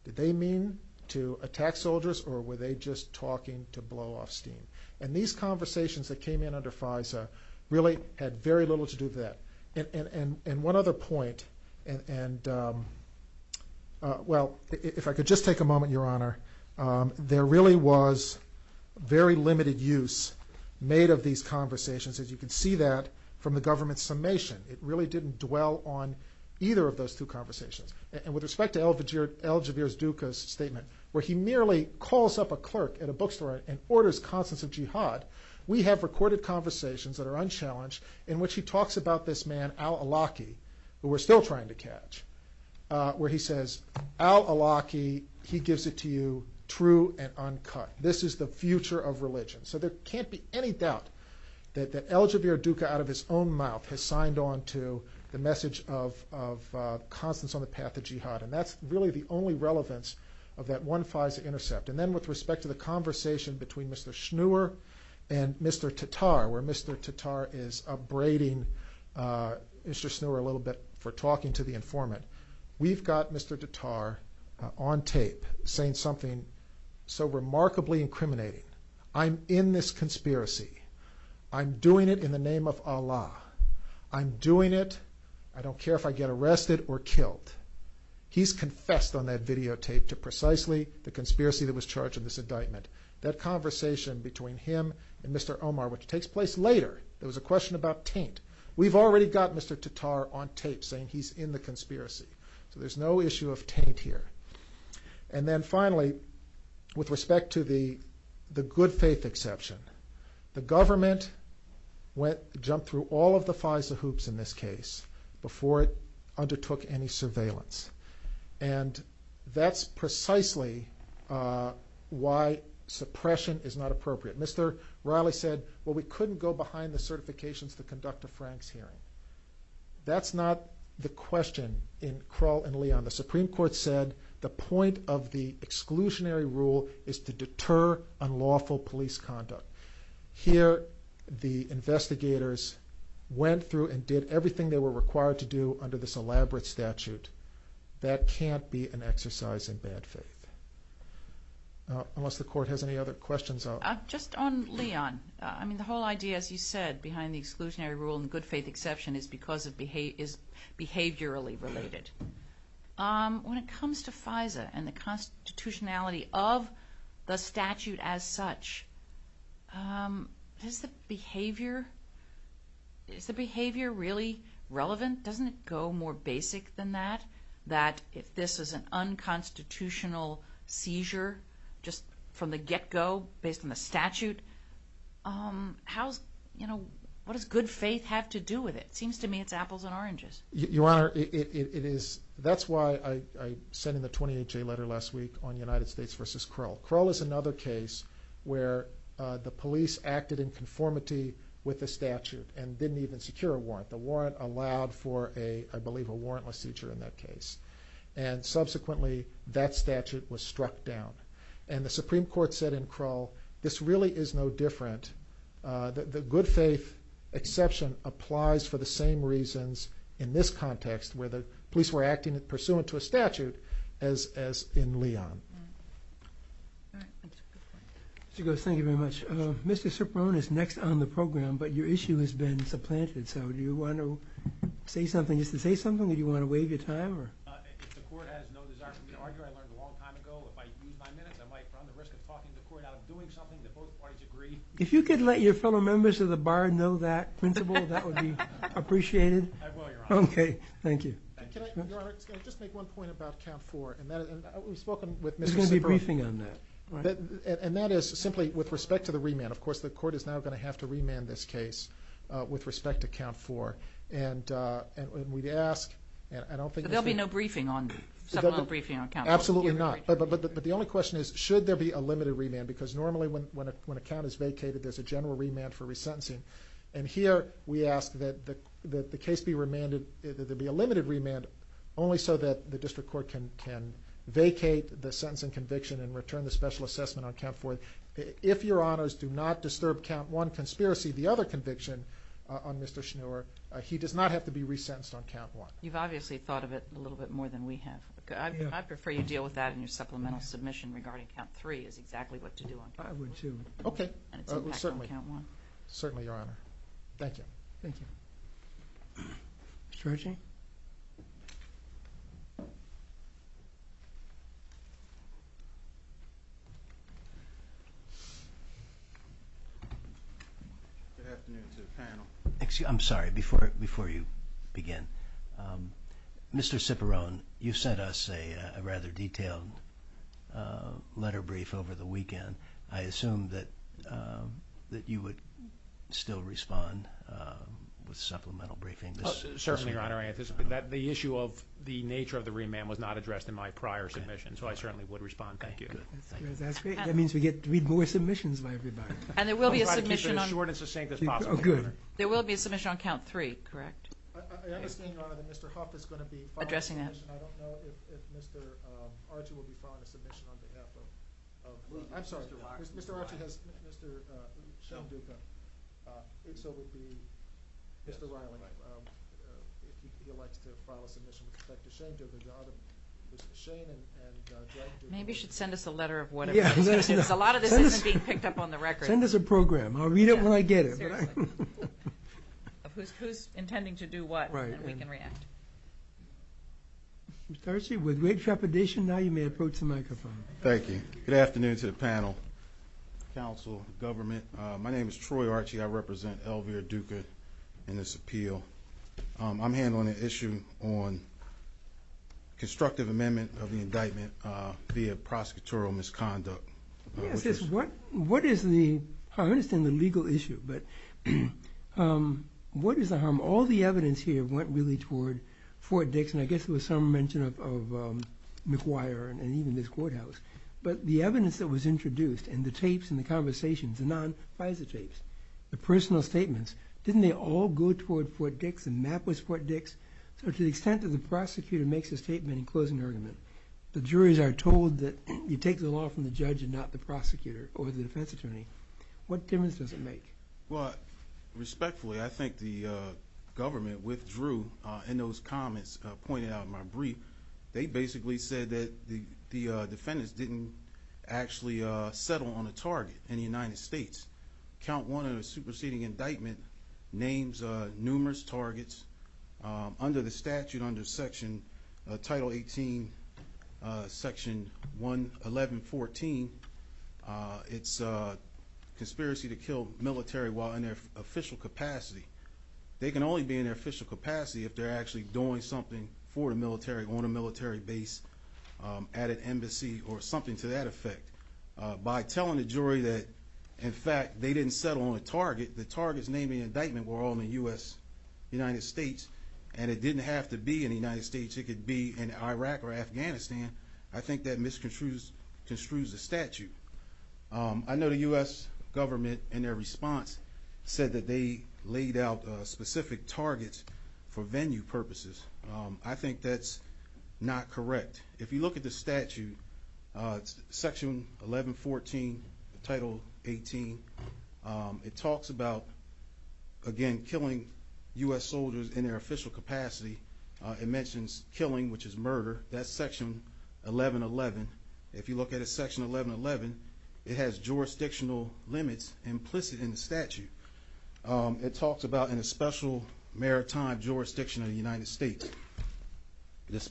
Did they mean to attack soldiers or were they just talking to blow off steam? And these conversations that came in under FISA really had very little to do with that. And one other point, and well, if I could just take a moment, Your Honor, there really was very limited use made of these conversations, as you can see that from the government's summation. It really didn't dwell on either of those two conversations. And with respect to Eljabir Duka's statement, where he merely calls up a clerk at a bookstore and orders conference of jihad, we have recorded conversations that are unchallenged in which he Al-Awlaki, who we're still trying to catch, where he says, Al-Awlaki, he gives it to you true and uncut. This is the future of religion. So there can't be any doubt that Eljabir Duka, out of his own mouth, has signed on to the message of confidence on the path to jihad. And that's really the only relevance of that one FISA intercept. And then with respect to conversation between Mr. Schnur and Mr. Tatar, where Mr. Tatar is abrading Mr. Schnur a little bit for talking to the informant, we've got Mr. Tatar on tape saying something so remarkably incriminating. I'm in this conspiracy. I'm doing it in the name of Allah. I'm doing it. I don't care if I get arrested or killed. He's confessed on that videotape to precisely the conversation between him and Mr. Omar, which takes place later. There was a question about taint. We've already got Mr. Tatar on tape saying he's in the conspiracy. So there's no issue of taint here. And then finally, with respect to the good faith exception, the government jumped through all of the FISA hoops in this case before it undertook any surveillance. And that's precisely why suppression is not appropriate. Mr. Raleigh said, well, we couldn't go behind the certifications to conduct a Frank's hearing. That's not the question in Kroll and Leon. The Supreme Court said the point of the exclusionary rule is to deter unlawful police conduct. Here, the investigators went through and did everything they were required to do under this elaborate statute. That can't be an exercise in bad faith, unless the court has any other questions. Just on Leon, I mean, the whole idea, as you said, behind the exclusionary rule and good faith exception is because it is behaviorally related. When it comes to FISA and the constitutionality of the statute as such, is the behavior really relevant? Doesn't it go more basic than that, that if this is an unconstitutional seizure just from the get-go based on the statute? What does good faith have to do with it? It seems to me it's apples and oranges. Your Honor, that's why I sent in the police acted in conformity with the statute and didn't even secure a warrant. The warrant allowed for, I believe, a warrantless seizure in that case. Subsequently, that statute was struck down. The Supreme Court said in Kroll, this really is no different. The good faith exception applies for the same reasons in this context where the police were acting pursuant to a statute as in the case of Leon. Thank you very much. Mr. Ciprone is next on the program, but your issue has been supplanted. So do you want to say something, just to say something, or do you want to waive your time? If you could let your fellow members of the bar know that, that would be appreciated. I just want to make one point about count four. And that is simply with respect to the remand. Of course, the court is now going to have to remand this case with respect to count four. There will be no briefing on count four? Absolutely not. But the only question is, should there be a limited remand? Because normally when a count is vacated, there's a general remand for resentencing. And here, we ask that the case be remanded, that there be a limited remand, only so that the district court can vacate the sentencing conviction and return the special assessment on count four. If your honors do not disturb count one conspiracy, the other conviction on Mr. Schnur, he does not have to be resentenced on count one. You've obviously thought of it a little bit more than we have. I'd prefer you deal with that in supplemental submission regarding count three is exactly what to do on count one. Okay. Certainly. Certainly, your honor. Thank you. Thank you. Mr. Archie? Good afternoon, Mr. Chairman. Thank you. I'm sorry. Before you begin, Mr. Ciperon, you've sent us a rather detailed letter brief over the weekend. I assume that you would still respond with a supplemental briefing. Certainly, your honor. The issue of the nature of the remand was not addressed in my prior submission, so I certainly would respond. Thank you. That's great. That means we get three more submissions by everybody. And there will be a submission on count three. Correct. Mr. Archie, with great trepidation, now you may approach the microphone. Thank you. Good afternoon to the panel, council, government. My name is Troy Archie. I represent Elvira-Duca in this appeal. I'm here on an issue on constructive amendment of an indictment via prosecutorial misconduct. I understand the legal issue, but what is the harm? All the evidence here went really toward Fort Dix, and I guess it was some mention of McGuire and even this courthouse. But the evidence that was introduced and the personal statements, didn't they all go toward Fort Dix and map was Fort Dix? So to the extent that the prosecutor makes a statement in closing argument, the juries are told that you take the law from the judge and not the prosecutor or the defense attorney. What difference does it make? Well, respectfully, I think the government withdrew in those comments pointed out in my brief. They basically said that the defendants didn't actually settle on a target in the United States. Count one of the superseding indictment names numerous targets under the statute, under section title 18, section 1114. It's a conspiracy to kill military while in their official capacity. They can only be in their official capacity if they're actually doing something for the military on a military base at an embassy or something to that effect. By telling the jury that, in fact, they didn't settle on a target, the target's name in the indictment were all in the U.S., United States, and it didn't have to be in the United States. It could be in Iraq or Afghanistan. I think that misconstrues the statute. I know the U.S. government in their response said that they laid out specific targets for venue purposes. I think that's not correct. If you look at the statute, section 1114, title 18, it talks about, again, killing U.S. soldiers in their official capacity. It mentions killing, which is murder. That's section 1111. If you look at it, section 1111, it has jurisdictional limits implicit in the statute. It talks about a special maritime jurisdiction of the United States. It's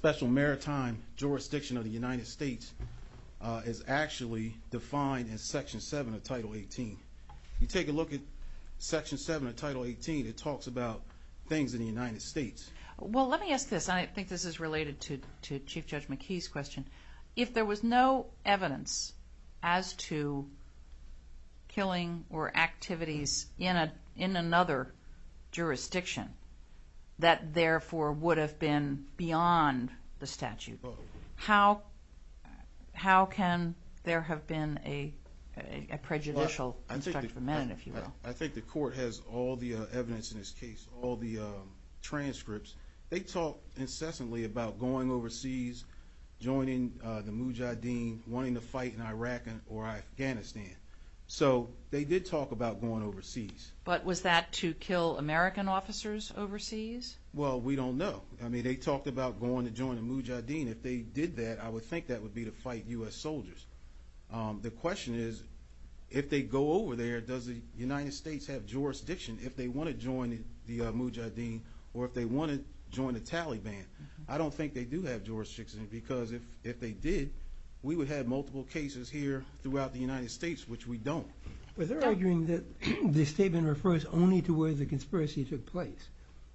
actually defined in section 7 of title 18. You take a look at section 7 of title 18, it talks about things in the United States. Well, let me ask this. I think this is related to Chief Judge McKee's question. If there was no evidence as to killing or activities in another jurisdiction, that, therefore, would have been beyond the statute, how can there have been a prejudicial amendment, if you will? I think the court has all the evidence in this case, all the transcripts. They talk incessantly about going overseas, joining the Mujahideen, wanting to fight in Iraq or Afghanistan. They did talk about going overseas. But was that to kill American officers overseas? Well, we don't know. I mean, they talked about going to join the Mujahideen. If they did that, I would think that would be to fight U.S. soldiers. The question is, if they go over there, does the United States have jurisdiction if they want to join the Mujahideen or if they want to join the Taliban? I don't think they do have jurisdiction, because if they did, we would have multiple cases here throughout the United States, which we don't. But they're arguing that the statement refers only to where the conspiracy took place.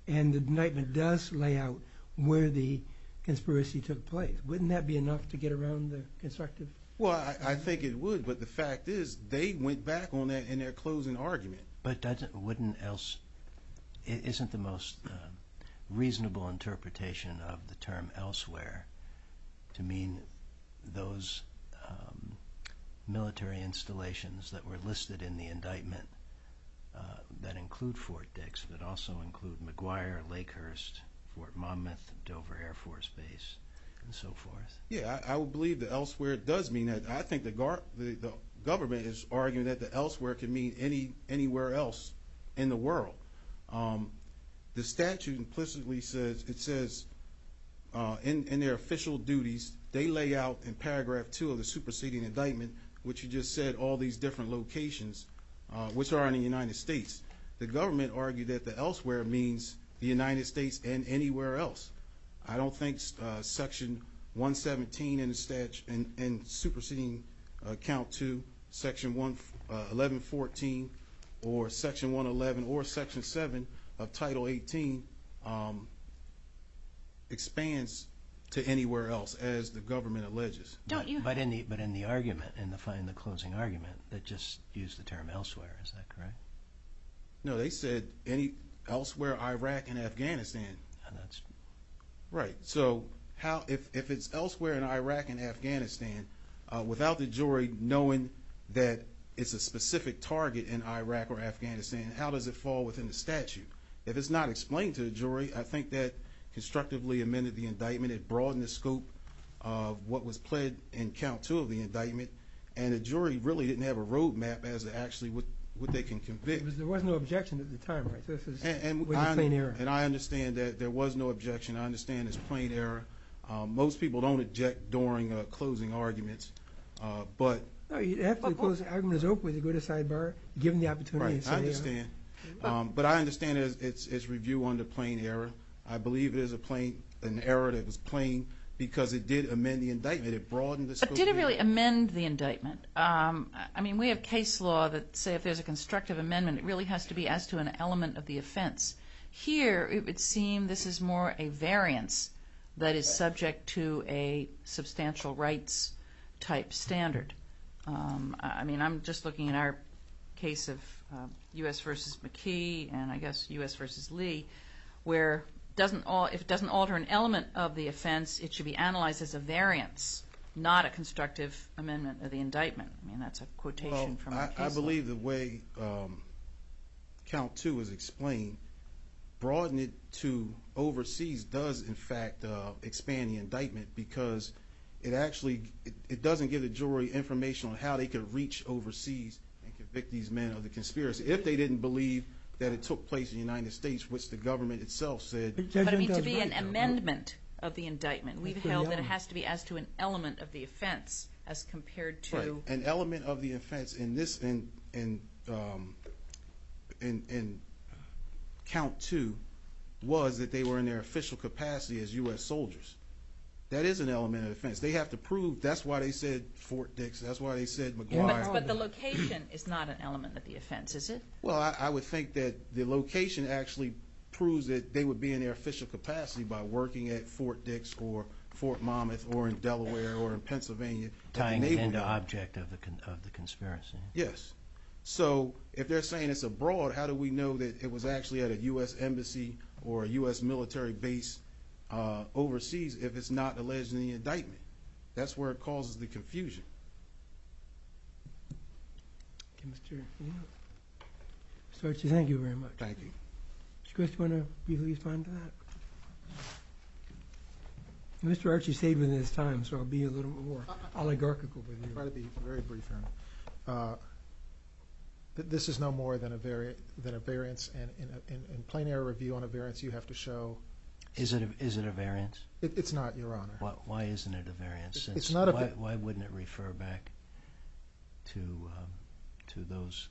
And the indictment does lay out where the conspiracy took place. Wouldn't that be enough to get around the constructive? Well, I think it would. But the fact is, they went back on that in their closing argument. But doesn't, wouldn't else, isn't the most reasonable interpretation of the term elsewhere to mean those military installations that were listed in the indictment that include Fort Dix, but also include McGuire, Lakehurst, Fort Monmouth, Dover Air Force Base, and so forth? Yeah, I would believe that elsewhere does mean that. I think the government is arguing that the elsewhere could mean anywhere else in the world. The statute implicitly says, it says in their official duties, they lay out in paragraph two of the superseding indictment, which you just said, all these different locations, which are in the United States. The government argued that the elsewhere means the United States and anywhere else. I don't think section 117 in the statute and superseding count to section 1114, or section 111, or section seven of title 18 expands to anywhere else, as the government alleges. But in the argument, in the closing argument, it just used the term elsewhere. Is that correct? No, they said any elsewhere, Iraq and Afghanistan. Right. So how, if it's elsewhere in Iraq and Afghanistan, without the jury knowing that it's a specific target in Iraq or Afghanistan, how does it fall within the statute? If it's not explained to the jury, I think that constructively amended the indictment, it broadened the scope of what was pled in count two of the indictment, and the jury really didn't have a roadmap as to actually what they can convict. Because there was no objection at the time. And I understand that there was no objection. I understand it's a good aside bar, given the opportunity. Right. I understand. But I understand it's review under plain error. I believe it is an error that was plain because it did amend the indictment. It broadened the scope of the indictment. But did it really amend the indictment? I mean, we have case law that says if there's a constructive amendment, it really has to be asked to an element of the offense. Here, it would seem this is more a looking at our case of U.S. versus McKee, and I guess U.S. versus Lee, where if it doesn't alter an element of the offense, it should be analyzed as a variance, not a constructive amendment of the indictment. I mean, that's a quotation from our counsel. Well, I believe the way count two was explained, broadening it to overseas does, in fact, expand the indictment, because it actually doesn't give the jury information on how they can reach overseas and convict these men of the conspiracy, if they didn't believe that it took place in the United States, which the government itself said. But it needs to be an amendment of the indictment. We feel that it has to be asked to an element of the offense as compared to... An element of the offense in count two was that they were in their official capacity as U.S. soldiers. That is an element of the offense. They have to prove that's why they said Fort Dix, that's why they said McGuire. But the location is not an element of the offense, is it? Well, I would think that the location actually proves that they would be in their official capacity by working at Fort Dix or Fort Monmouth or in Delaware or in Pennsylvania. Tying into object of the conspiracy. Yes. So, if they're saying it's abroad, how do we know that it was actually at a U.S. embassy or a U.S. military base overseas, if it's not alleged in the indictment? That's where it causes the confusion. Mr. Archie, thank you very much. Thank you. Mr. Archie saved me this time, so I'll be a little more oligarchical. Very brief. This is no more than a variance. In plain air review on a variance, you have to show... Is it a variance? It's not, Your Honor. Why isn't it a variance? Why wouldn't it refer back to those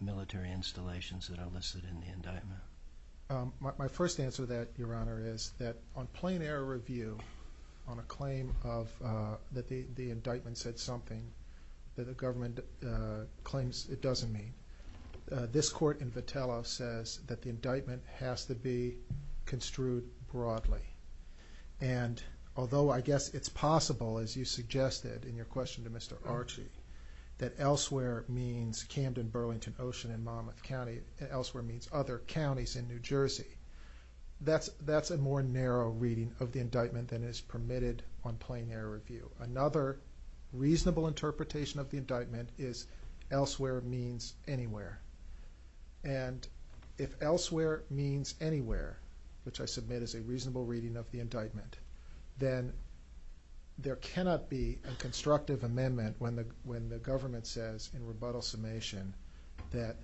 military installations that are listed in the indictment? My first answer to that, Your Honor, is that on plain air review on a claim that the indictment said something that the government claims it doesn't mean, this court in Vitello says that the indictment has to be construed broadly. Although I guess it's possible, as you suggested in your question to Mr. Archie, that elsewhere means Camden, Burlington, Ocean, and Monmouth County, elsewhere means other counties in New Jersey. That's a more narrow reading of the indictment than is permitted on plain air review. Another reasonable interpretation of the indictment is elsewhere means anywhere. If elsewhere means anywhere, which I submit is a reasonable reading of the indictment, then there cannot be a constructive amendment when the government says, in rebuttal summation, that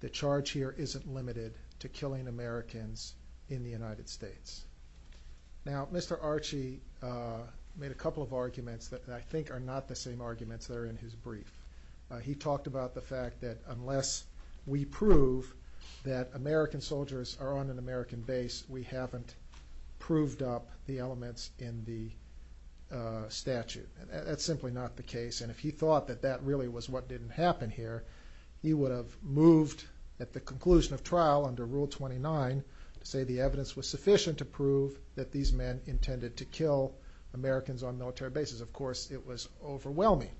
the charge here isn't limited to killing Americans in the United States. Now, Mr. Archie made a couple of arguments that I think are not the same arguments that are in his brief. He talked about the fact that unless we prove that American soldiers are on an American base, we haven't proved up the elements in the statute. That's simply not the case. He would have moved at the conclusion of trial under Rule 29 to say the evidence was sufficient to prove that these men intended to kill Americans on military bases. Of course, it was overwhelming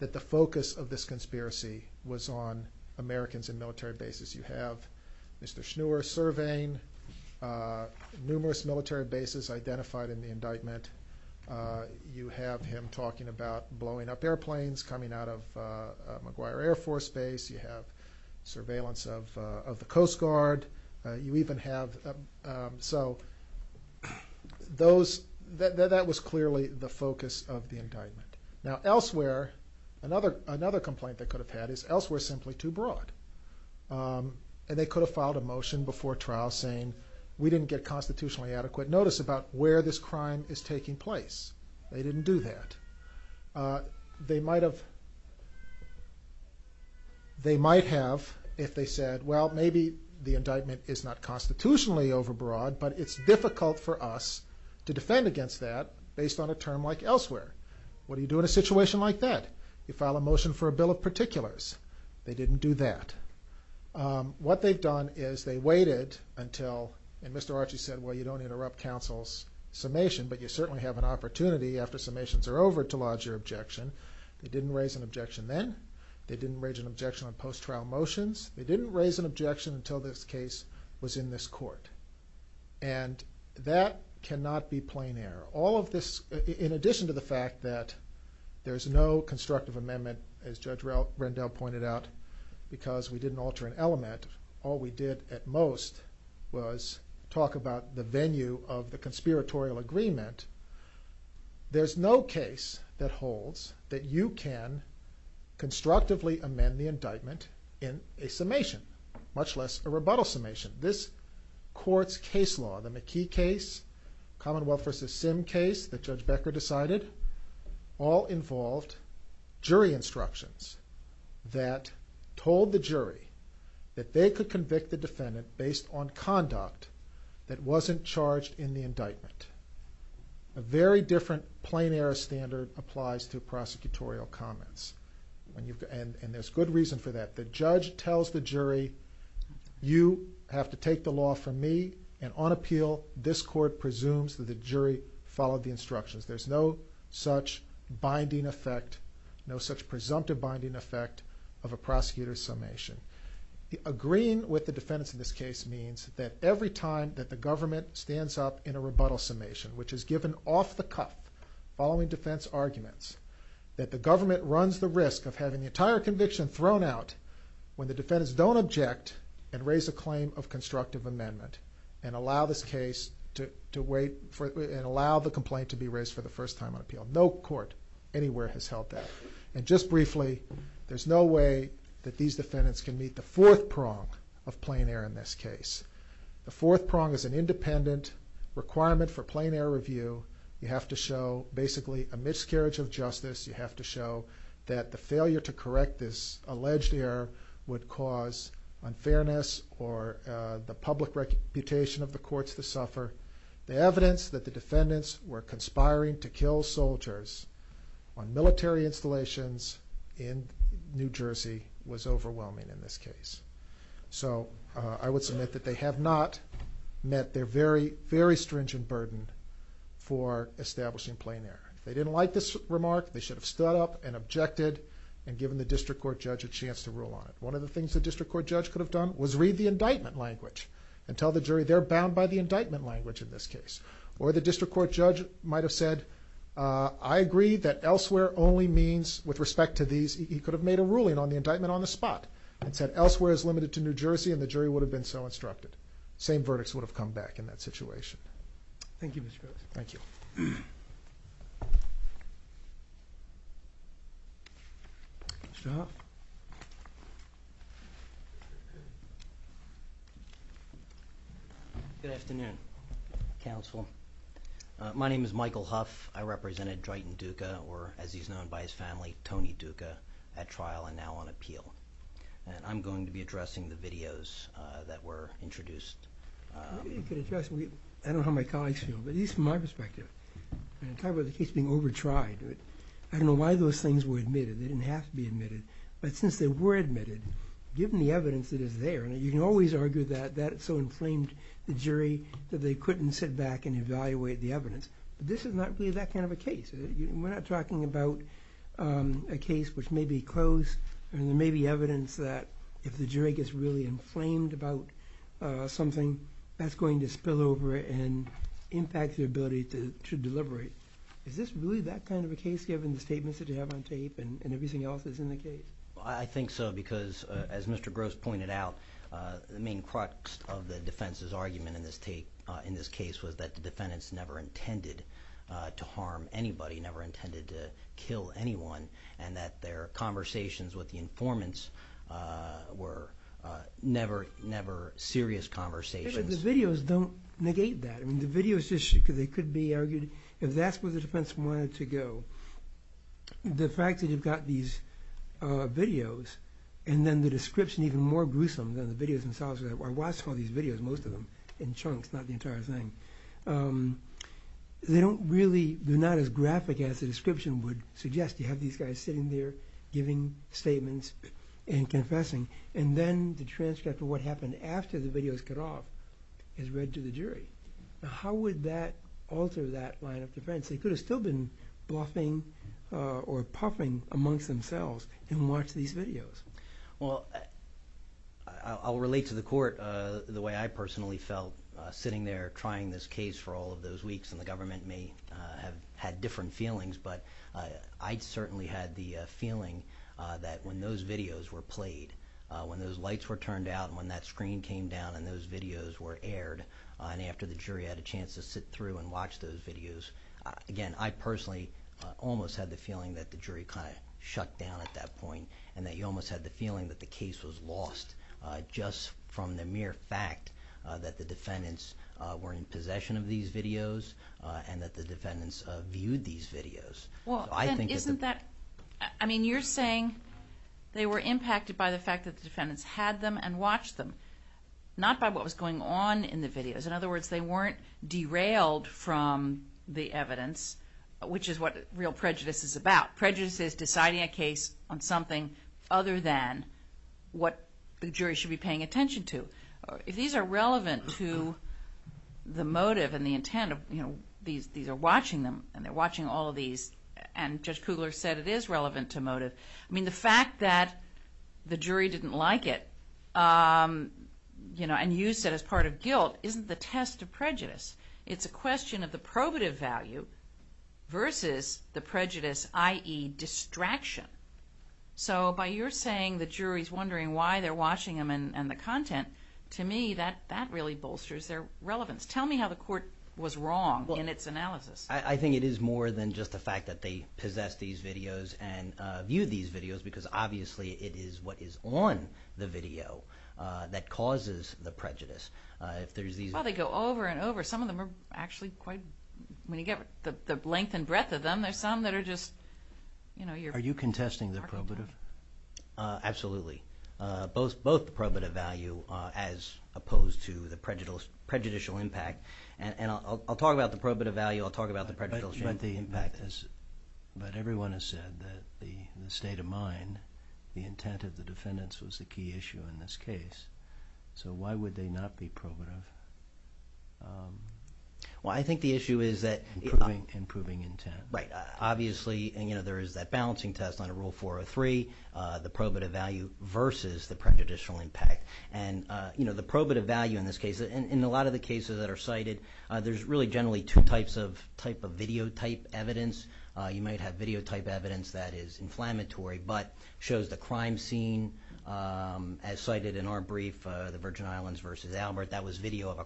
that the focus of this conspiracy was on Americans in military bases. You have Mr. Schnur surveying numerous military bases identified in the indictment. You have him talking about blowing up airplanes coming out of McGuire Air Force Base. You have surveillance of the Coast Guard. That was clearly the focus of the indictment. Now, elsewhere, another complaint they could have had is elsewhere is simply too broad. They could have filed a motion before trial saying we didn't get constitutionally adequate notice about where this crime is taking place. They didn't do that. They might have if they said, well, maybe the indictment is not constitutionally overbroad, but it's difficult for us to defend against that based on a term like elsewhere. What do you do in a situation like that? You file a motion for a bill of particulars. They didn't do that. What they've waited until, and Mr. Archie said, well, you don't interrupt counsel's summation, but you certainly have an opportunity after summations are over to lodge your objection. They didn't raise an objection then. They didn't raise an objection on post-trial motions. They didn't raise an objection until this case was in this court. That cannot be plain error. In addition to the fact that there is no constructive amendment, as Judge Rendell pointed out, because we didn't alter an element. All we did at most was talk about the venue of the conspiratorial agreement. There's no case that holds that you can constructively amend the indictment in a summation, much less a rebuttal summation. This court's case law, the McKee case, Commonwealth v. Sim case that Judge Becker decided, all involved jury instructions that told the jury that they could convict the defendant based on conduct that wasn't charged in the indictment. A very different plain error standard applies to prosecutorial comments, and there's good reason for that. The judge tells the jury, you have to take the law from me, and on appeal, this court presumes that the jury followed the instructions. There's no such binding effect, no such presumptive binding effect of a prosecutor's summation. Agreeing with the defendant in this case means that every time that the government stands up in a rebuttal summation, which is given off the cuff following defense arguments, that the government runs the risk of having the entire conviction thrown out when the defendants don't object and raise a claim of constructive amendment and allow the complaint to be raised for the first time on appeal. No court anywhere has held that. Just briefly, there's no way that these defendants can meet the fourth prong of plain error in this case. The fourth prong is an independent requirement for plain error review. You have to show basically a miscarriage of justice. You have to show that the failure to correct this alleged error would cause unfairness or the public reputation of the courts to suffer. The evidence that the defendants were conspiring to kill soldiers on military installations in New Jersey was overwhelming in this case. So I would submit that they have not met their very, very stringent burden for establishing plain error. They didn't like this remark. They should have stood up and objected and given the district court judge a chance to rule on it. One of the things the district court judge could have done was read the indictment language and tell the jury they're bound by the indictment language in this case. Or the district court judge might have said, I agree that elsewhere only means with respect to these, he could have made a ruling on the indictment on the spot and said elsewhere is limited to New Jersey and the jury would have been so instructed. Same verdicts would have come back in that situation. Thank you, Mr. Good. Thank you. Good afternoon, counsel. My name is Michael Huff. I represented Drayton Dukka or as he's known by his family, Tony Dukka at trial and now on appeal. I'm going to be addressing the videos that were discussed. I don't know how my colleagues feel, but at least from my perspective, when I talk about the case being over-tried, I don't know why those things were admitted. They didn't have to be admitted. But since they were admitted, given the evidence that is there, you can always argue that that so inflamed the jury that they couldn't sit back and evaluate the evidence. This is not really that kind of a case. We're not talking about a case which may be closed and there may be evidence that if the jury gets really inflamed about something, that's going to spill over and impact the ability to deliberate. Is this really that kind of a case given the statements that you have on tape and everything else that's in the case? I think so because as Mr. Gross pointed out, the main crux of the defense's argument in this case was that the defendants never intended to harm anybody, never intended to kill anyone and that their conversations with the informants were never serious conversations. The videos don't negate that. If that's where the defense wanted to go, the fact that you've got these videos and then the description even more gruesome than the videos themselves, I watched all these videos, most of them, in chunks, not the entire thing. They don't really, they're not as graphic as the description would suggest. You have these guys sitting there giving statements and confessing and then the transcript of what happened after the videos cut off is read to the jury. How would that alter that line of defense? They could have still been bluffing or puffing amongst themselves and watch these videos. Well, I'll relate to the all of those weeks and the government may have had different feelings, but I certainly had the feeling that when those videos were played, when those lights were turned out and when that screen came down and those videos were aired and after the jury had a chance to sit through and watch those videos, again, I personally almost had the feeling that the jury kind of shut down at that point and that you almost had the feeling that the case was lost just from the mere fact that defendants were in possession of these videos and that the defendants viewed these videos. I mean, you're saying they were impacted by the fact that the defendants had them and watched them, not by what was going on in the videos. In other words, they weren't derailed from the evidence, which is what real prejudice is about. Prejudice is deciding a case on something other than what the jury should be paying attention to. These are relevant to the motive and the intent of, you know, these are watching them and they're watching all of these and Judge Kugler said it is relevant to motive. I mean, the fact that the jury didn't like it, you know, and used it as part of guilt isn't the test of prejudice. It's a question of the probative value versus the prejudice, i.e. distraction. So by your saying the jury's wondering why they're watching them and the content, to me that really bolsters their relevance. Tell me how the court was wrong in its analysis. I think it is more than just the fact that they possess these videos and view these videos because obviously it is what is on the video that causes the prejudice. They go over and over. Some of them are actually quite, when you get the length and breadth of them, some that are just, you know... Are you contesting the probative? Absolutely. Both the probative value as opposed to the prejudicial impact and I'll talk about the probative value, I'll talk about the prejudicial impact, but everyone has said that the state of mind, the intent of the defendants was a key issue in this case. So why would they not be probative? Well, I think the issue is that... Improving intent. Right. Obviously, you know, there is that balancing test under Rule 403, the probative value versus the prejudicial impact and, you know, the probative value in this case, in a lot of the cases that are cited, there's really generally two types of type of video type evidence. You might have video type evidence that is inflammatory but shows the crime scene as cited in our brief, the Virgin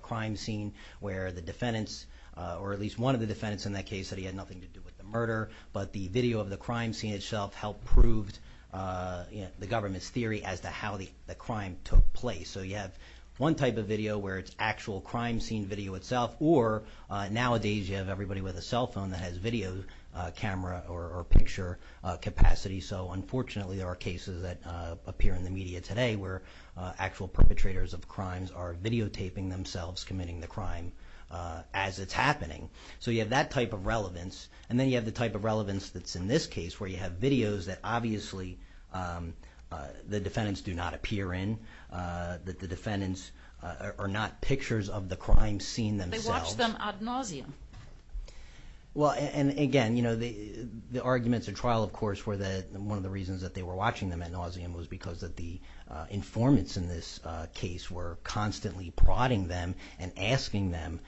Crime Scene, where the defendants, or at least one of the defendants in that case said he had nothing to do with the murder, but the video of the crime scene itself helped prove, you know, the government's theory as to how the crime took place. So you have one type of video where it's actual crime scene video itself or nowadays you have everybody with a cell phone that has video camera or picture capacity. So unfortunately, there are cases that appear in the media today where actual perpetrators of crimes are videotaping themselves committing the crime as it's happening. So you have that type of relevance and then you have the type of relevance that's in this case where you have videos that obviously the defendants do not appear in, that the defendants are not pictures of the crime scene themselves. They watch them ad nauseam. Well, and again, you know, the arguments at trial, of course, were that one of the reasons that they were watching them ad nauseam was because of the informants in this case were constantly prodding them and asking them,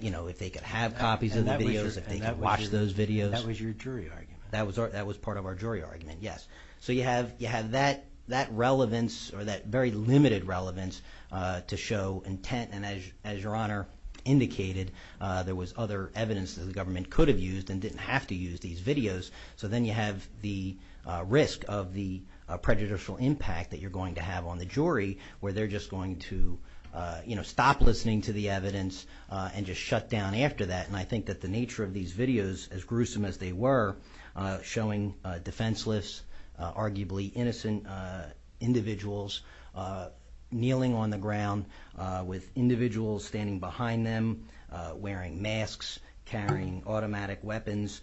you know, if they could have copies of the videos, if they could watch those videos. That was your jury argument. That was part of our jury argument, yes. So you have that relevance or that very limited relevance to show intent and as your honor indicated, there was other evidence that the government could have used and didn't have to a prejudicial impact that you're going to have on the jury where they're just going to, you know, stop listening to the evidence and just shut down after that. And I think that the nature of these videos, as gruesome as they were, showing defenseless, arguably innocent individuals kneeling on the ground with individuals standing behind them, wearing masks, carrying automatic weapons,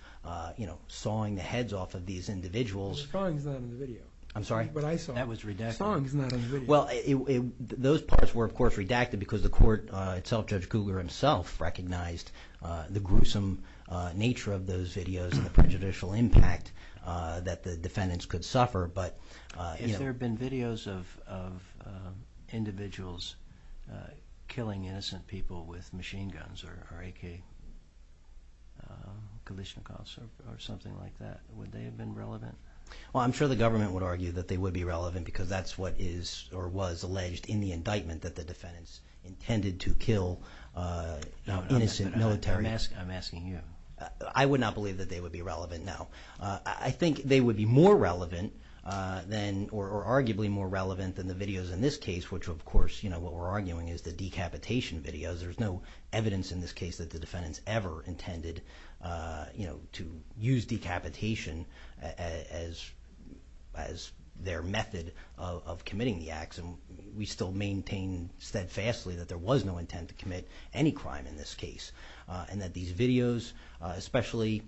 you know, sawing the heads off of these individuals. The sawing is not in the video. I'm sorry? That's what I saw. That was redacted. The sawing is not in the video. Well, those parts were, of course, redacted because the court itself, Judge Cougar himself, recognized the gruesome nature of those videos and the prejudicial impact that the defendants could suffer, but, you know. If there had been videos of individuals killing innocent people with machine guns or AK or Kalashnikovs or something like that, would they have been relevant? Well, I'm sure the government would argue that they would be relevant because that's what is or was alleged in the indictment that the defendants intended to kill innocent military. I'm asking you. I would not believe that they would be relevant now. I think they would be more relevant than or arguably more relevant than the videos in this case, which, of course, you know, what we're arguing is the decapitation videos. There's no evidence in this case that the defendants ever intended, you know, to use decapitation as their method of committing the acts, and we still maintain steadfastly that there was no intent to commit any crime in this case and that these videos, especially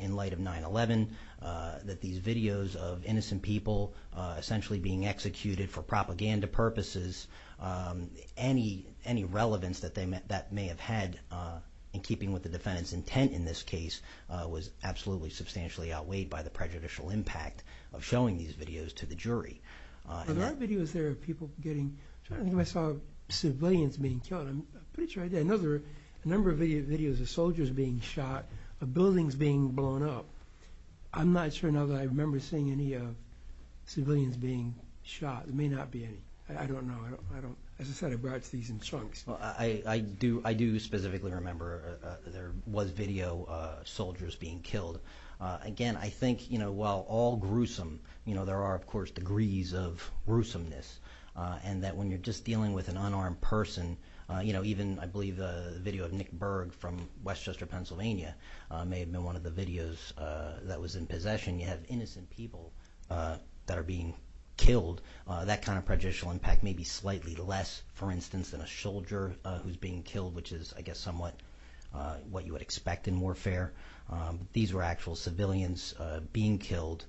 in light of 9-11, that these videos of innocent people essentially being executed for propaganda purposes, any relevance that that may have had in keeping with the defendant's intent in this case was absolutely substantially outweighed by the prejudicial impact of showing these videos to the jury. There are videos there of people getting, I saw civilians being shot. I'm pretty sure I did. I know there are a number of videos of soldiers being shot, of buildings being blown up. I'm not sure now that I remember seeing any civilians being shot. There may not be any. I don't know. As I said, I brought these in chunks. Well, I do specifically remember there was video of soldiers being killed. Again, I think, you know, while all gruesome, you know, there are, of course, degrees of gruesomeness and that when you're just dealing with an unarmed person, you know, even, I believe, the video of Nick Berg from Westchester, Pennsylvania, may have been one of the videos that was in possession. You have innocent people that are being killed. That kind of prejudicial impact may be slightly less, for instance, than a soldier who's being killed, which is, I guess, somewhat what you would expect in warfare. These were actual civilians being killed,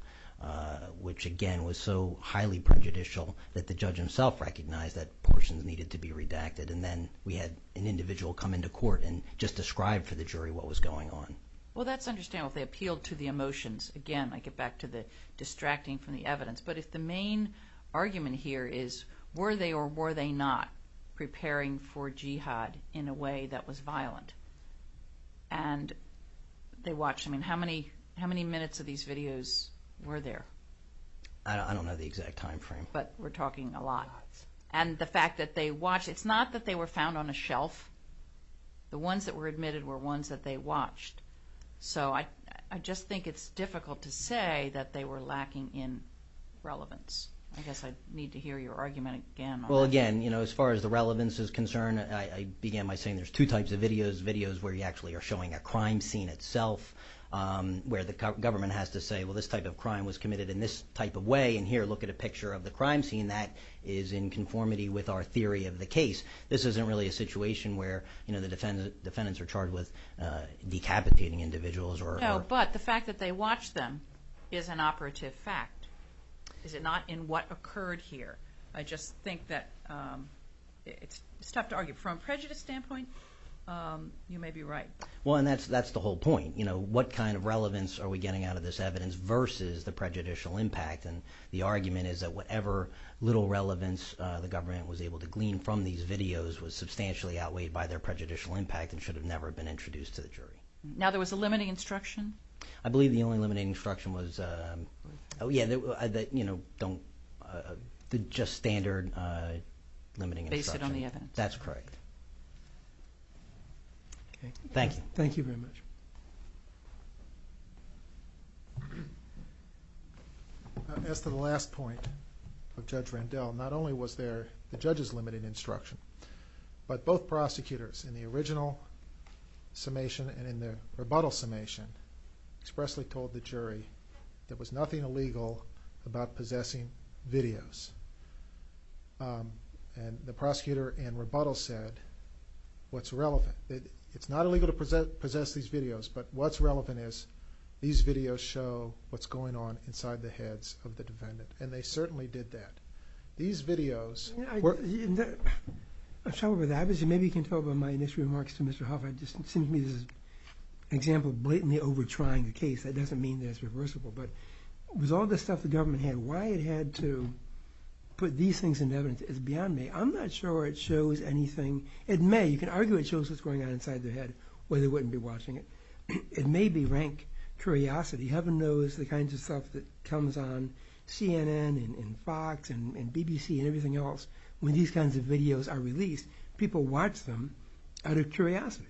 which, again, was so highly prejudicial that the judge himself recognized that person needed to be redacted. And then we had an individual come into court and just describe to the jury what was going on. Well, that's understandable. They appealed to the emotions. Again, I get back to the distracting from the evidence. But if the main argument here is, were they or were they not preparing for jihad in a way that was violent? And they watched. I mean, how many minutes of these videos were there? I don't know the exact time frame. But we're talking a lot. And the fact that they watched, it's not that they were found on a shelf. The ones that were admitted were ones that they watched. So I just think it's difficult to say that they were lacking in relevance. I guess I need to hear your argument again. Well, again, as far as the relevance is concerned, I began by saying there's two types of videos, videos where you actually are showing a crime scene itself, where the government has to say, well, this type of crime was committed in this type of way. And here, look at a picture of the crime scene that is in conformity with our theory of the case. This isn't really a situation where the defendants are charged with decapitating individuals. No, but the fact that they watched them is an operative fact. Is it not in what occurred here? I just think that it's tough to argue. From a prejudice standpoint, you may be right. Well, and that's the whole point. What kind of relevance are we getting out of this evidence versus the prejudicial impact? And the argument is that whatever little relevance the government was able to glean from these videos was substantially outweighed by their prejudicial impact and should have never been introduced to the jury. Now, there was a limiting instruction? I believe the only limiting instruction was, yeah, the just standard limiting instruction. Based on the evidence. That's correct. Okay. Thank you. Thank you very much. As to the last point of Judge Randell, not only was there the judge's limited instruction, but both prosecutors in the original summation and in the rebuttal summation expressly told the jury there was nothing illegal about possessing videos. And the prosecutor in rebuttal said, what's relevant? It's not illegal to possess these videos, but what's relevant is these videos show what's going on inside the heads of the defendants. And they certainly did that. These videos. I'm struggling with that. Maybe you can talk about my initial remarks to Mr. Hoffman. It just seems to me there's an example of blatantly over trying the case. That doesn't mean that it's reversible. But with all the stuff the government had, why it had to put these things in evidence is beyond me. I'm not sure it shows anything. It may. You can argue it shows what's going on inside their head where they wouldn't be watching it. It may be rank curiosity. Heaven knows the kinds of stuff that comes on CNN and Fox and BBC and everything else. When these kinds of videos are released, people watch them out of curiosity.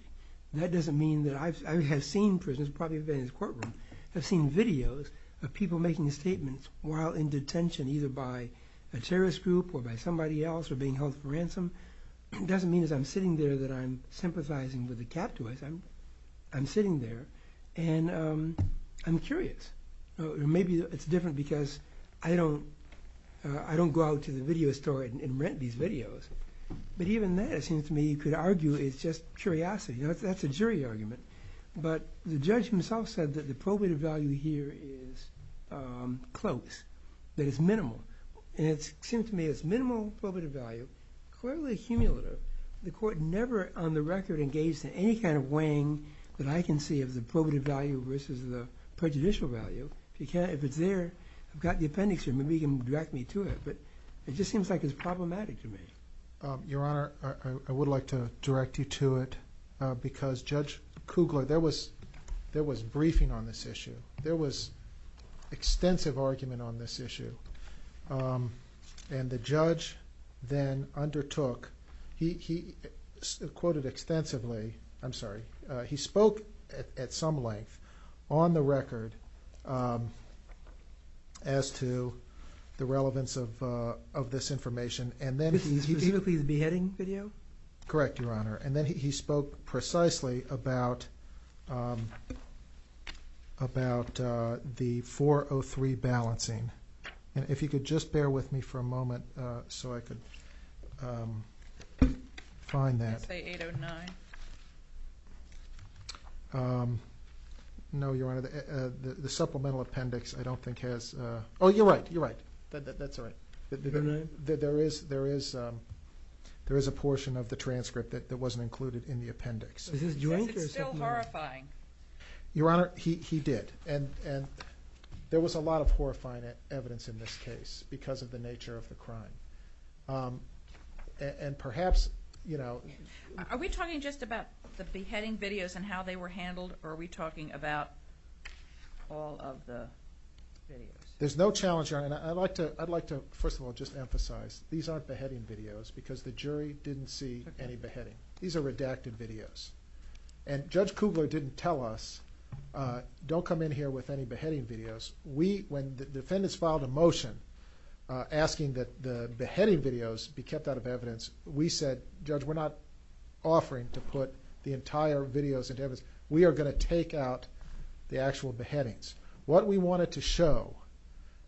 That doesn't mean that I have seen, for instance, probably in this courtroom, I've seen videos of people making statements while in detention either by a terrorist group or by somebody else or being held for ransom. It doesn't mean that I'm sitting there that I'm sympathizing with the capitalism. I'm sitting there. And I'm curious. Maybe it's different because I don't go out to the video store and rent these videos. But even then, it seems to me you could argue it's just curiosity. That's a jury argument. But the judge himself said that the probative value here is close, that it's minimal. And it seems to me it's minimal probative value, clearly cumulative. The court never on the record engaged in any kind of weighing that I can see of the probative value versus the prejudicial value. If it's there, I've got the appendix. Maybe you can direct me to it. But it just seems like it's problematic to me. Your Honor, I would like to direct you to it because Judge Kugler, there was briefing on this issue. There was extensive argument on this issue. And the judge then undertook, he quoted extensively, I'm sorry, he spoke at some length on the record as to the relevance of this information. And then he... Did he look at the beheading video? Correct, Your Honor. And then he spoke precisely about the 403 balancing. If you could just bear with me for a moment so I could find that. Is that the 809? No, Your Honor, the supplemental appendix I don't think has... Oh, you're right, you're right. That's right. There is a portion of the transcript that wasn't included in the appendix. It's still horrifying. Your Honor, he did. There was a lot of horrifying evidence in this case because of the nature of the crime. And perhaps... Are we talking just about the beheading videos and how they were handled or are we talking about all of the videos? There's no challenge, Your Honor. I'd like to, first of all, just emphasize these aren't beheading videos because the jury didn't see any beheading. These are redacted videos. And Judge Kugler didn't tell us, don't come in here with any beheading videos. We, when the defendants filed a motion asking that the beheading videos be kept out of evidence, we said, Judge, we're not offering to put the entire videos into evidence. We are going to take out the actual beheadings. What we wanted to show,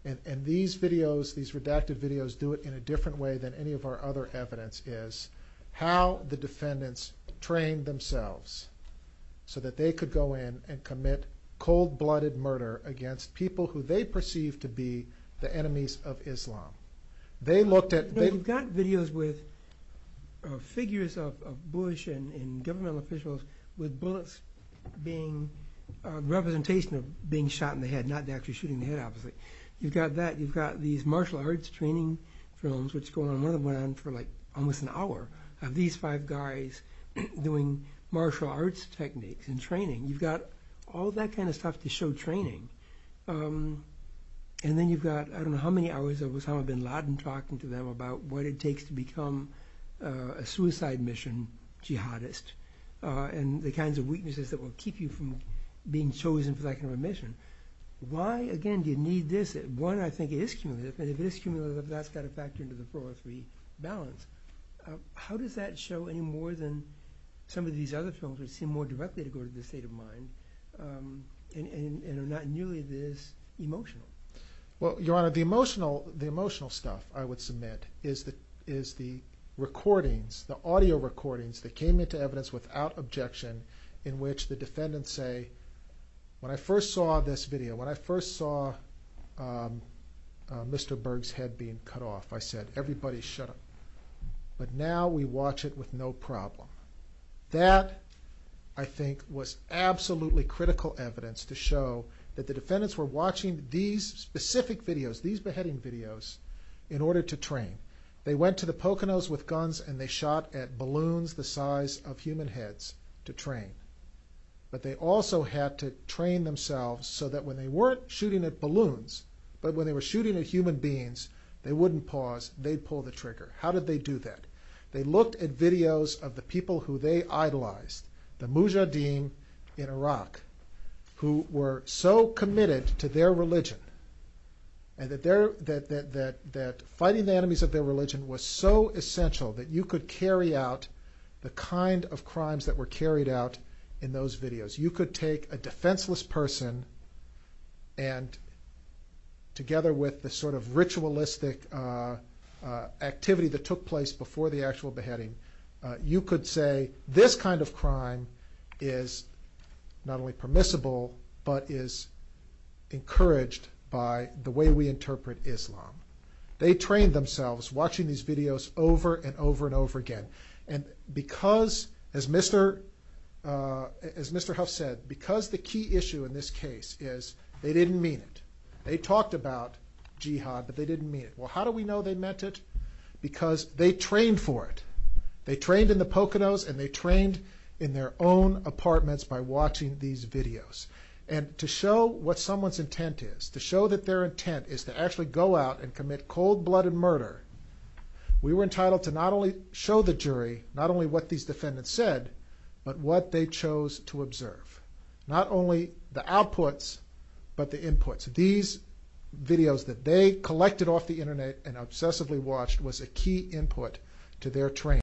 and these videos, these redacted videos do it in a different way than any of our other evidence, is how the defendants trained themselves so that they could go in and commit cold-blooded murder against people who they perceived to be the enemies of Islam. They looked at... They've got videos with figures of Bush and government officials with bullets being representation of being shot in the head, not actually shooting the head off of it. You've got that. You've got these martial arts training films, which go on and on for like almost an hour, of these five guys doing martial arts techniques and training. You've got all that kind of stuff to show training. And then you've got, I don't know how many hours it was, how I've been loud and talking to them about what it takes to become a suicide mission jihadist and the kinds of weaknesses that will keep you from being chosen for that kind of a mission. Why, again, do you need this? One, I think it is cumulative, and if it is cumulative, it's not satisfactory to the four or three balance. How does that show any more than some of these other films, which seem more directly to go to the state of mind, and are not nearly this emotional? Well, Your Honor, the emotional stuff, I would submit, is the recordings, the audio recordings that came into evidence without objection, in which the defendants say, when I first saw this video, when I first saw Mr. Berg's head being cut off, I said, everybody shut up. But now we watch it with no problem. That, I think, was absolutely critical evidence to show that the defendants were watching these specific videos, these beheading videos, in order to train. They went to the Poconos with guns, and they shot at balloons the size of human heads to train. But they also had to train themselves so that when they weren't shooting at balloons, but when they were shooting at human beings, they wouldn't pause. They'd pull the trigger. How did they do that? They looked at videos of the people who they idolized, the Mujahideen in Iraq, who were so committed to their religion, and that fighting the enemies of their religion was so essential that you could carry out the kind of crimes that were carried out in those videos. You could take a defenseless person and, together with the sort of ritualistic activity that took place before the actual beheading, you could say, this kind of crime is not only encouraged by the way we interpret Islam. They trained themselves watching these videos over and over and over again. And because, as Mr. Huff said, because the key issue in this case is they didn't mean it. They talked about jihad, but they didn't mean it. Well, how do we know they meant it? Because they trained for it. They trained in the Poconos, and they trained in their own apartments by watching these videos. And to show what someone's intent is, to show that their intent is to actually go out and commit cold-blooded murder, we were entitled to not only show the jury not only what these defendants said, but what they chose to observe. Not only the outputs, but the inputs. These videos that they collected off the internet and obsessively watched was a key input to their training.